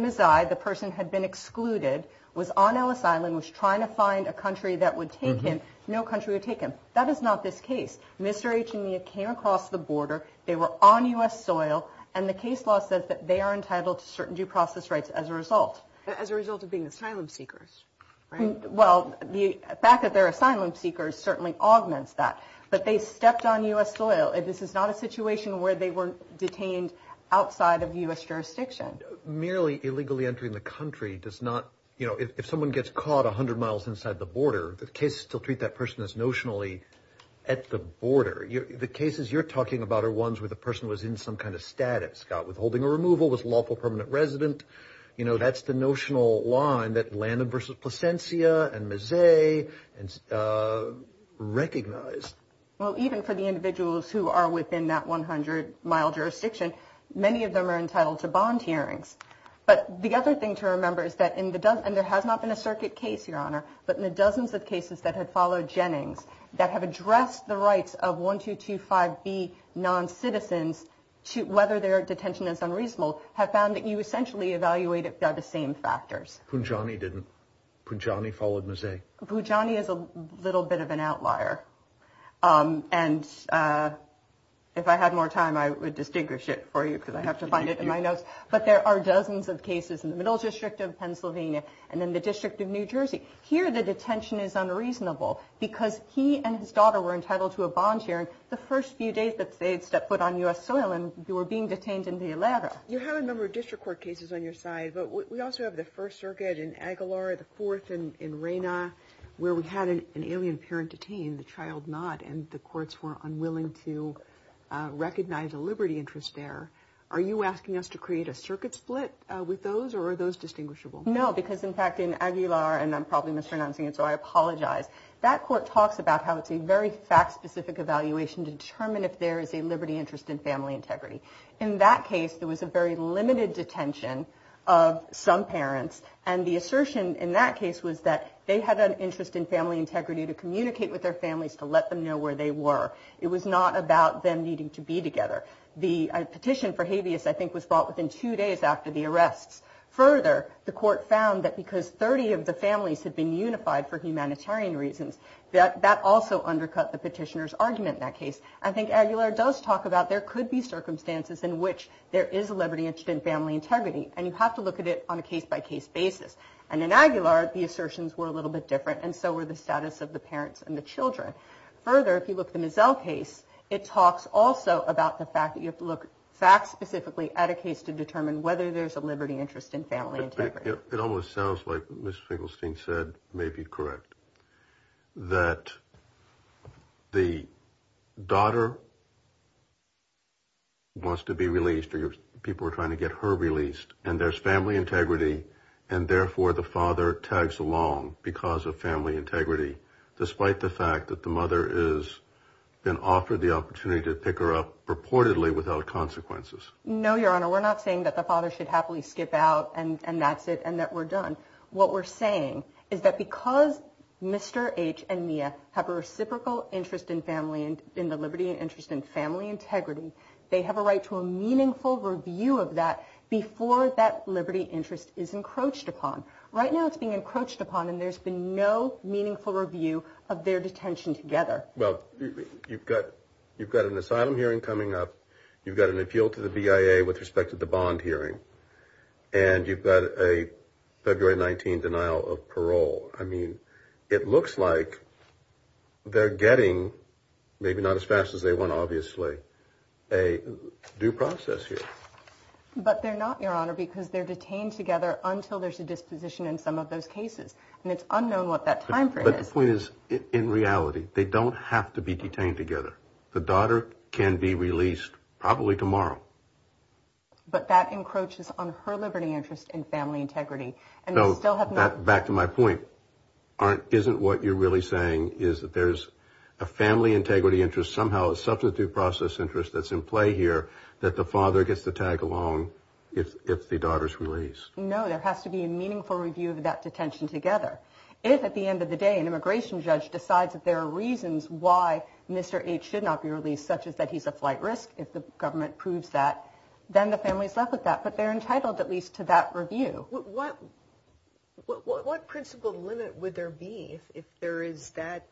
Mazzei, the person had been excluded, was on Ellis Island, was trying to find a country that would take him. No country would take him. That is not this case. Mr. H and Mia came across the border. They were on U.S. soil. And the case law says that they are entitled to certain due process rights as a result. As a result of being asylum seekers, right? Well, the fact that they're asylum seekers certainly augments that. But they stepped on U.S. soil. This is not a situation where they were detained outside of U.S. jurisdiction. Merely illegally entering the country does not, you know, if someone gets caught 100 miles inside the border, the cases still treat that person as notionally at the border. The cases you're talking about are ones where the person was in some kind of status, got withholding or removal, was a lawful permanent resident. You know, that's the notional line that Landon v. Placencia and Mazzei recognized. Well, even for the individuals who are within that 100-mile jurisdiction, many of them are entitled to bond hearings. But the other thing to remember is that in the dozen, and there has not been a circuit case, Your Honor, but in the dozens of cases that have followed Jennings that have addressed the rights of 1225B noncitizens, whether their detention is unreasonable, have found that you essentially evaluate it by the same factors. Punjani didn't. Punjani followed Mazzei. Punjani is a little bit of an outlier. And if I had more time, I would distinguish it for you because I have to find it in my notes. But there are dozens of cases in the Middle District of Pennsylvania and in the District of New Jersey. Here, the detention is unreasonable because he and his daughter were entitled to a bond hearing the first few days that they had stepped foot on U.S. soil and they were being detained in the Alara. You have a number of district court cases on your side, but we also have the First Circuit in Aguilar, the Fourth in Reyna, where we had an alien parent detained, the child not, and the courts were unwilling to recognize a liberty interest there. Are you asking us to create a circuit split with those, or are those distinguishable? No, because, in fact, in Aguilar, and I'm probably mispronouncing it, so I apologize, that court talks about how it's a very fact-specific evaluation to determine if there is a liberty interest in family integrity. In that case, there was a very limited detention of some parents, and the assertion in that case was that they had an interest in family integrity to communicate with their families to let them know where they were. It was not about them needing to be together. The petition for habeas, I think, was brought within two days after the arrests. Further, the court found that because 30 of the families had been unified for humanitarian reasons, that that also undercut the petitioner's argument in that case. I think Aguilar does talk about there could be circumstances in which there is a liberty interest in family integrity, and you have to look at it on a case-by-case basis. And in Aguilar, the assertions were a little bit different, and so were the status of the parents and the children. Further, if you look at the Mizell case, it talks also about the fact that you have to look fact-specifically at a case to determine whether there's a liberty interest in family integrity. It almost sounds like what Ms. Finkelstein said may be correct, that the daughter wants to be released, or people are trying to get her released, and there's family integrity, and therefore the father tags along because of family integrity, despite the fact that the mother has been offered the opportunity to pick her up purportedly without consequences. No, Your Honor, we're not saying that the father should happily skip out and that's it, and that we're done. What we're saying is that because Mr. H. and Mia have a reciprocal interest in the liberty and interest in family integrity, they have a right to a meaningful review of that before that liberty interest is encroached upon. Right now it's being encroached upon, and there's been no meaningful review of their detention together. Well, you've got an asylum hearing coming up, you've got an appeal to the BIA with respect to the bond hearing, and you've got a February 19 denial of parole. I mean, it looks like they're getting, maybe not as fast as they want, obviously, a due process here. But they're not, Your Honor, because they're detained together until there's a disposition in some of those cases, and it's unknown what that timeframe is. My point is, in reality, they don't have to be detained together. The daughter can be released probably tomorrow. But that encroaches on her liberty, interest, and family integrity. Back to my point, isn't what you're really saying is that there's a family integrity interest, somehow a substitute process interest that's in play here that the father gets to tag along if the daughter's released? No, there has to be a meaningful review of that detention together. If, at the end of the day, an immigration judge decides that there are reasons why Mr. H should not be released, such as that he's a flight risk if the government approves that, then the family's left with that. But they're entitled, at least, to that review. What principle limit would there be if there is that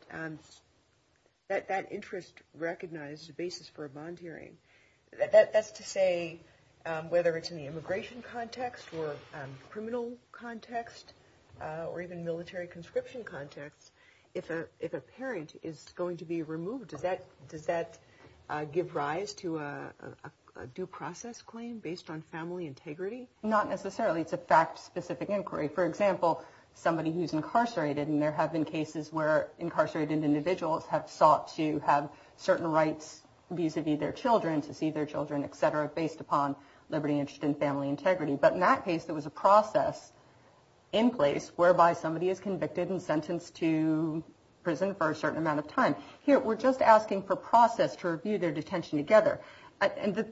interest recognized as a basis for a bond hearing? That's to say, whether it's in the immigration context or criminal context or even military conscription context, if a parent is going to be removed, does that give rise to a due process claim based on family integrity? Not necessarily. It's a fact-specific inquiry. For example, somebody who's incarcerated, and there have been cases where incarcerated individuals have sought to have certain rights vis-a-vis their children, to see their children, et cetera, based upon liberty, interest, and family integrity. But in that case, there was a process in place whereby somebody is convicted and sentenced to prison for a certain amount of time. Here, we're just asking for process to review their detention together.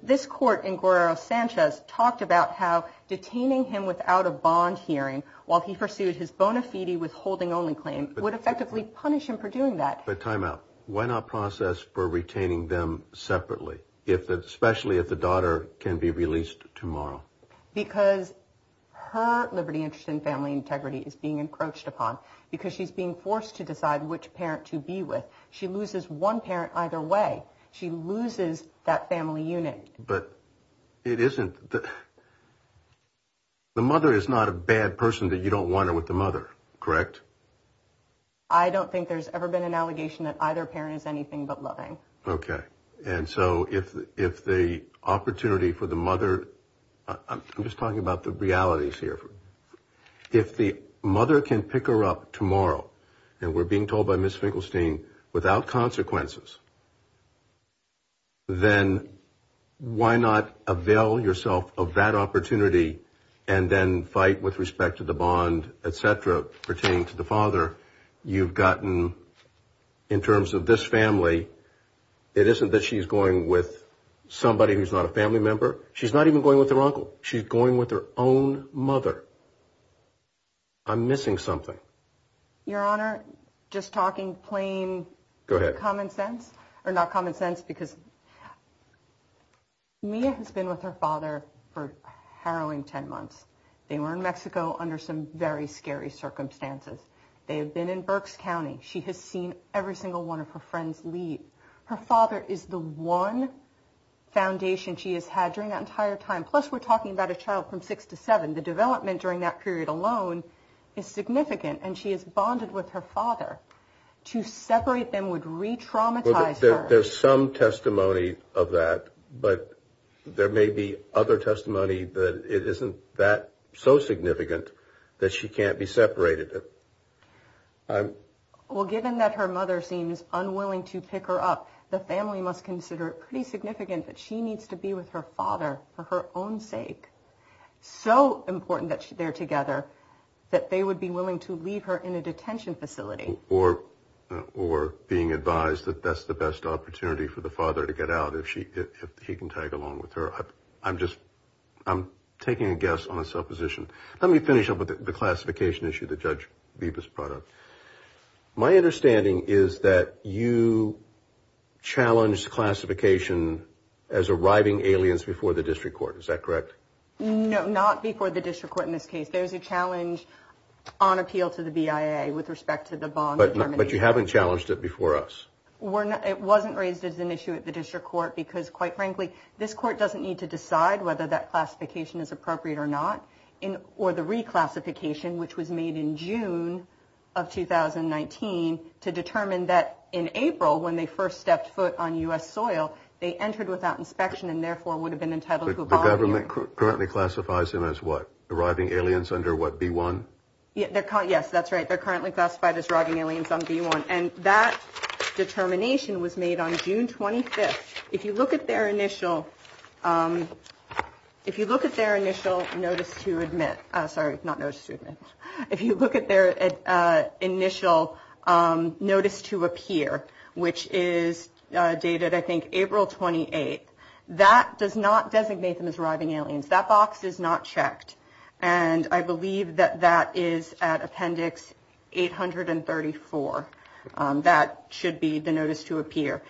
This court in Guerrero-Sanchez talked about how detaining him without a bond hearing while he pursued his bona fide withholding-only claim would effectively punish him for doing that. But time out. Why not process for retaining them separately, especially if the daughter can be released tomorrow? Because her liberty, interest, and family integrity is being encroached upon, because she's being forced to decide which parent to be with. She loses one parent either way. She loses that family unit. But it isn't the mother is not a bad person that you don't want her with the mother, correct? I don't think there's ever been an allegation that either parent is anything but loving. Okay. And so if the opportunity for the mother, I'm just talking about the realities here. If the mother can pick her up tomorrow, and we're being told by Ms. Finkelstein, without consequences, then why not avail yourself of that opportunity and then fight with respect to the bond, et cetera, pertaining to the father? You've gotten, in terms of this family, it isn't that she's going with somebody who's not a family member. She's not even going with her uncle. She's going with her own mother. I'm missing something. Your Honor, just talking plain common sense, or not common sense, because Mia has been with her father for a harrowing ten months. They were in Mexico under some very scary circumstances. They have been in Berks County. She has seen every single one of her friends leave. Her father is the one foundation she has had during that entire time. Plus, we're talking about a child from six to seven. The development during that period alone is significant, and she is bonded with her father. To separate them would re-traumatize her. There's some testimony of that, but there may be other testimony that it isn't that so significant that she can't be separated. Well, given that her mother seems unwilling to pick her up, the family must consider it pretty significant that she needs to be with her father for her own sake. So important that they're together that they would be willing to leave her in a detention facility. Or being advised that that's the best opportunity for the father to get out if he can tag along with her. I'm taking a guess on a supposition. Let me finish up with the classification issue that Judge Bibas brought up. My understanding is that you challenged classification as arriving aliens before the district court. Is that correct? No, not before the district court in this case. There's a challenge on appeal to the BIA with respect to the bond determination. But you haven't challenged it before us. It wasn't raised as an issue at the district court because, quite frankly, this court doesn't need to decide whether that classification is appropriate or not. Or the reclassification, which was made in June of 2019, to determine that in April, when they first stepped foot on U.S. soil, they entered without inspection and therefore would have been entitled to a bond hearing. The government currently classifies them as what? Arriving aliens under what? B1? Yes, that's right. They're currently classified as arriving aliens on B1. And that determination was made on June 25th. If you look at their initial notice to admit. Sorry, not notice to admit. If you look at their initial notice to appear, which is dated, I think, April 28th. That does not designate them as arriving aliens. That box is not checked. And I believe that that is at Appendix 834. That should be the notice to appear.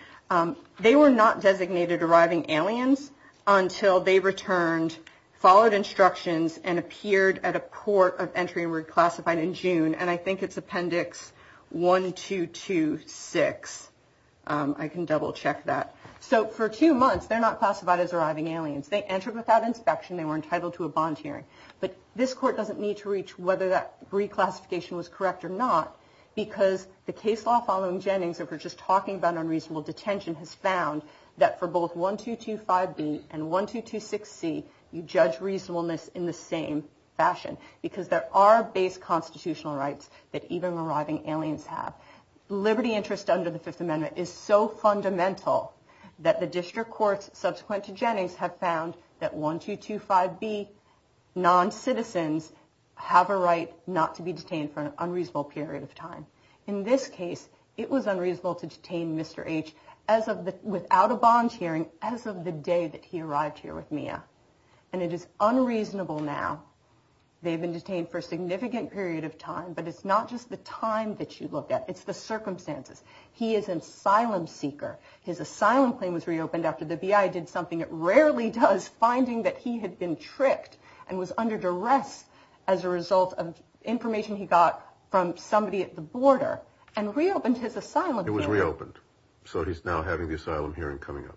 They were not designated arriving aliens until they returned, followed instructions and appeared at a court of entry and reclassified in June. And I think it's Appendix 1226. I can double check that. So for two months, they're not classified as arriving aliens. They entered without inspection. They were entitled to a bond hearing. But this court doesn't need to reach whether that reclassification was correct or not. Because the case law following Jennings, if we're just talking about unreasonable detention, has found that for both 1225B and 1226C, you judge reasonableness in the same fashion because there are base constitutional rights that even arriving aliens have. Liberty interest under the Fifth Amendment is so fundamental that the district courts subsequent to Jennings have found that 1225B non-citizens have a right not to be detained for an unreasonable period of time. In this case, it was unreasonable to detain Mr. H without a bond hearing as of the day that he arrived here with Mia. And it is unreasonable now. They've been detained for a significant period of time. But it's not just the time that you look at. It's the circumstances. He is an asylum seeker. His asylum claim was reopened after the B.I. did something it rarely does, finding that he had been tricked and was under duress as a result of information he got from somebody at the border and reopened his asylum. It was reopened. So he's now having the asylum hearing coming up.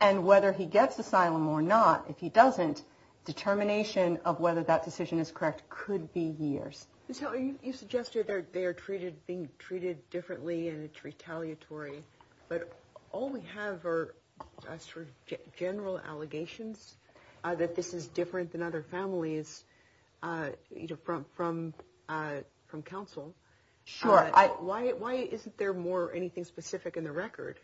And whether he gets asylum or not, if he doesn't, determination of whether that decision is correct could be years. So you suggested that they are treated being treated differently and it's retaliatory. But all we have are general allegations that this is different than other families from from from counsel. Sure. Why? Why isn't there more anything specific in the record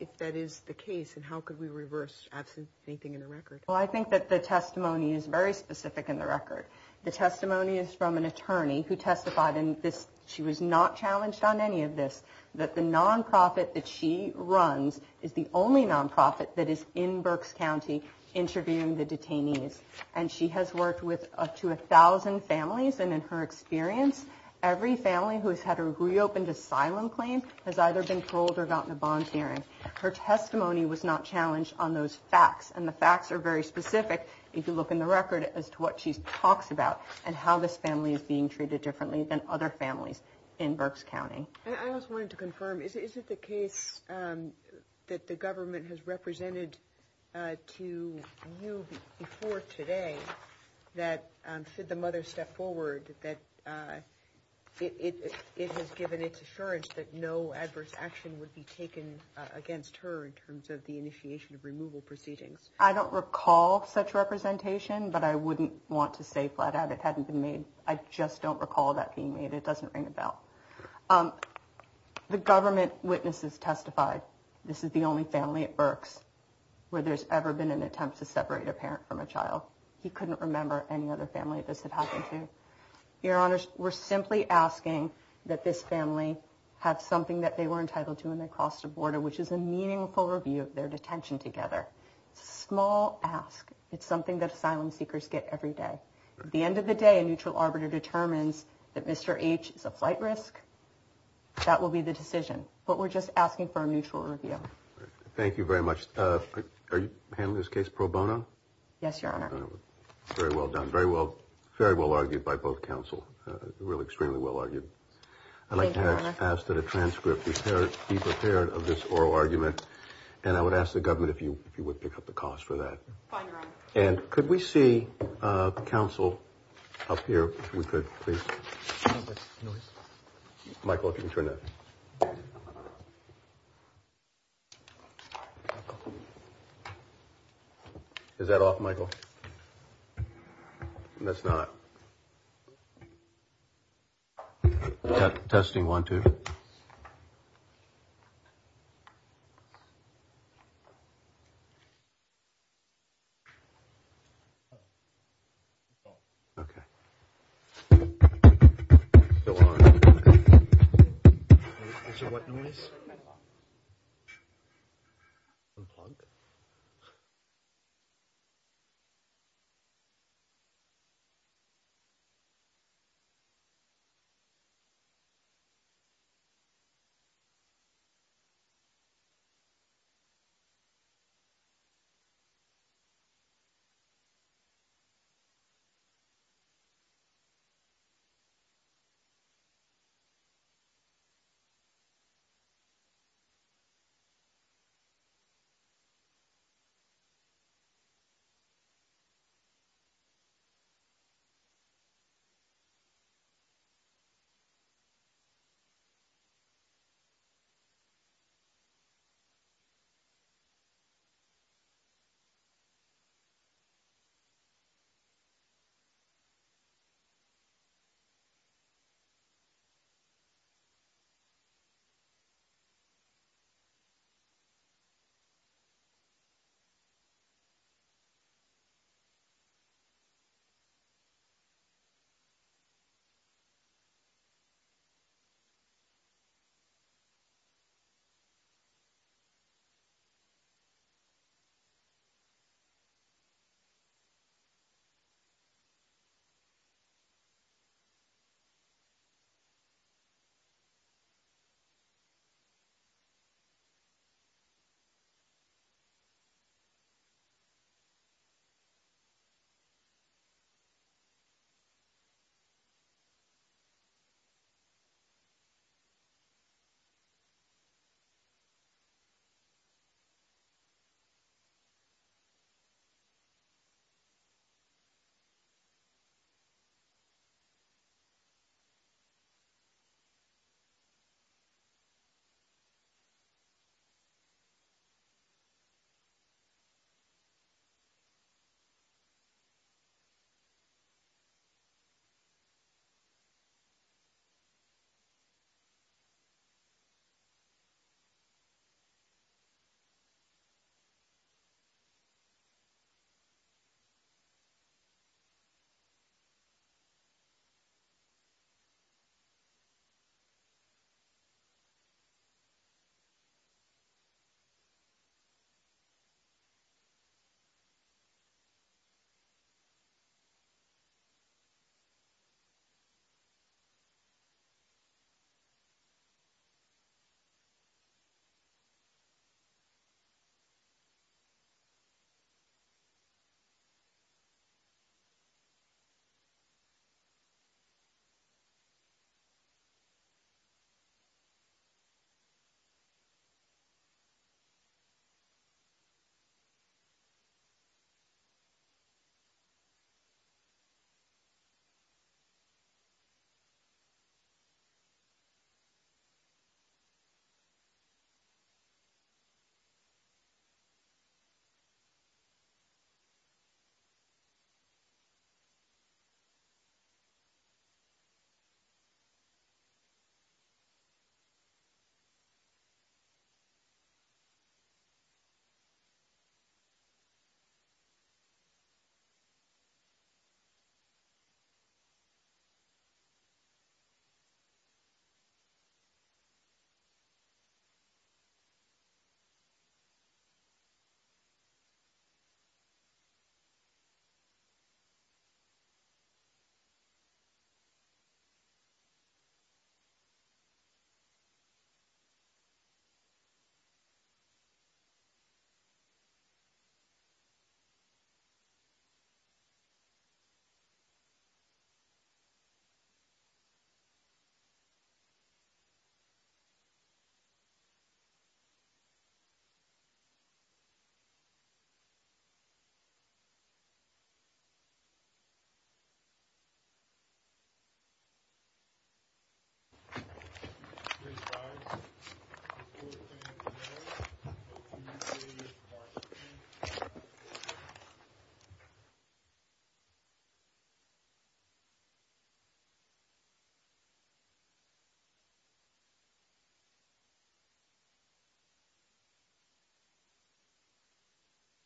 if that is the case? And how could we reverse absolutely anything in the record? Well, I think that the testimony is very specific in the record. The testimony is from an attorney who testified in this. She was not challenged on any of this, that the nonprofit that she runs is the only nonprofit that is in Berks County interviewing the detainees. And she has worked with up to a thousand families. And in her experience, every family who has had a reopened asylum claim has either been paroled or gotten a bond hearing. Her testimony was not challenged on those facts. And the facts are very specific. If you look in the record as to what she talks about and how this family is being treated differently than other families in Berks County. I just wanted to confirm, is it the case that the government has represented to you before today that the mother stepped forward, that it has given its assurance that no adverse action would be taken against her in terms of the initiation of removal proceedings? I don't recall such representation, but I wouldn't want to say flat out it hadn't been made. I just don't recall that being made. It doesn't ring a bell. The government witnesses testified. This is the only family at Berks where there's ever been an attempt to separate a parent from a child. He couldn't remember any other family. This had happened to your honor. We're simply asking that this family have something that they were entitled to when they crossed the border, which is a meaningful review of their detention together. Small ask. It's something that asylum seekers get every day. At the end of the day, a neutral arbiter determines that Mr. H is a flight risk. That will be the decision. But we're just asking for a mutual review. Thank you very much. Are you handling this case pro bono? Yes, your honor. Very well done. Very well. Very well argued by both counsel. Really extremely well argued. I'd like to ask that a transcript be prepared of this oral argument. And I would ask the government if you if you would pick up the cost for that. And could we see counsel up here? We could please. Michael, if you can turn it. Is that off, Michael? That's not. Testing one, two. Testing one, two, three. Testing one, two, three. Testing one, two, three. Testing one, two, three. Testing one, two, three. Testing one, two, three. Testing one, two, three. Testing one, two, three. Testing one, two, three. Testing one, two, three.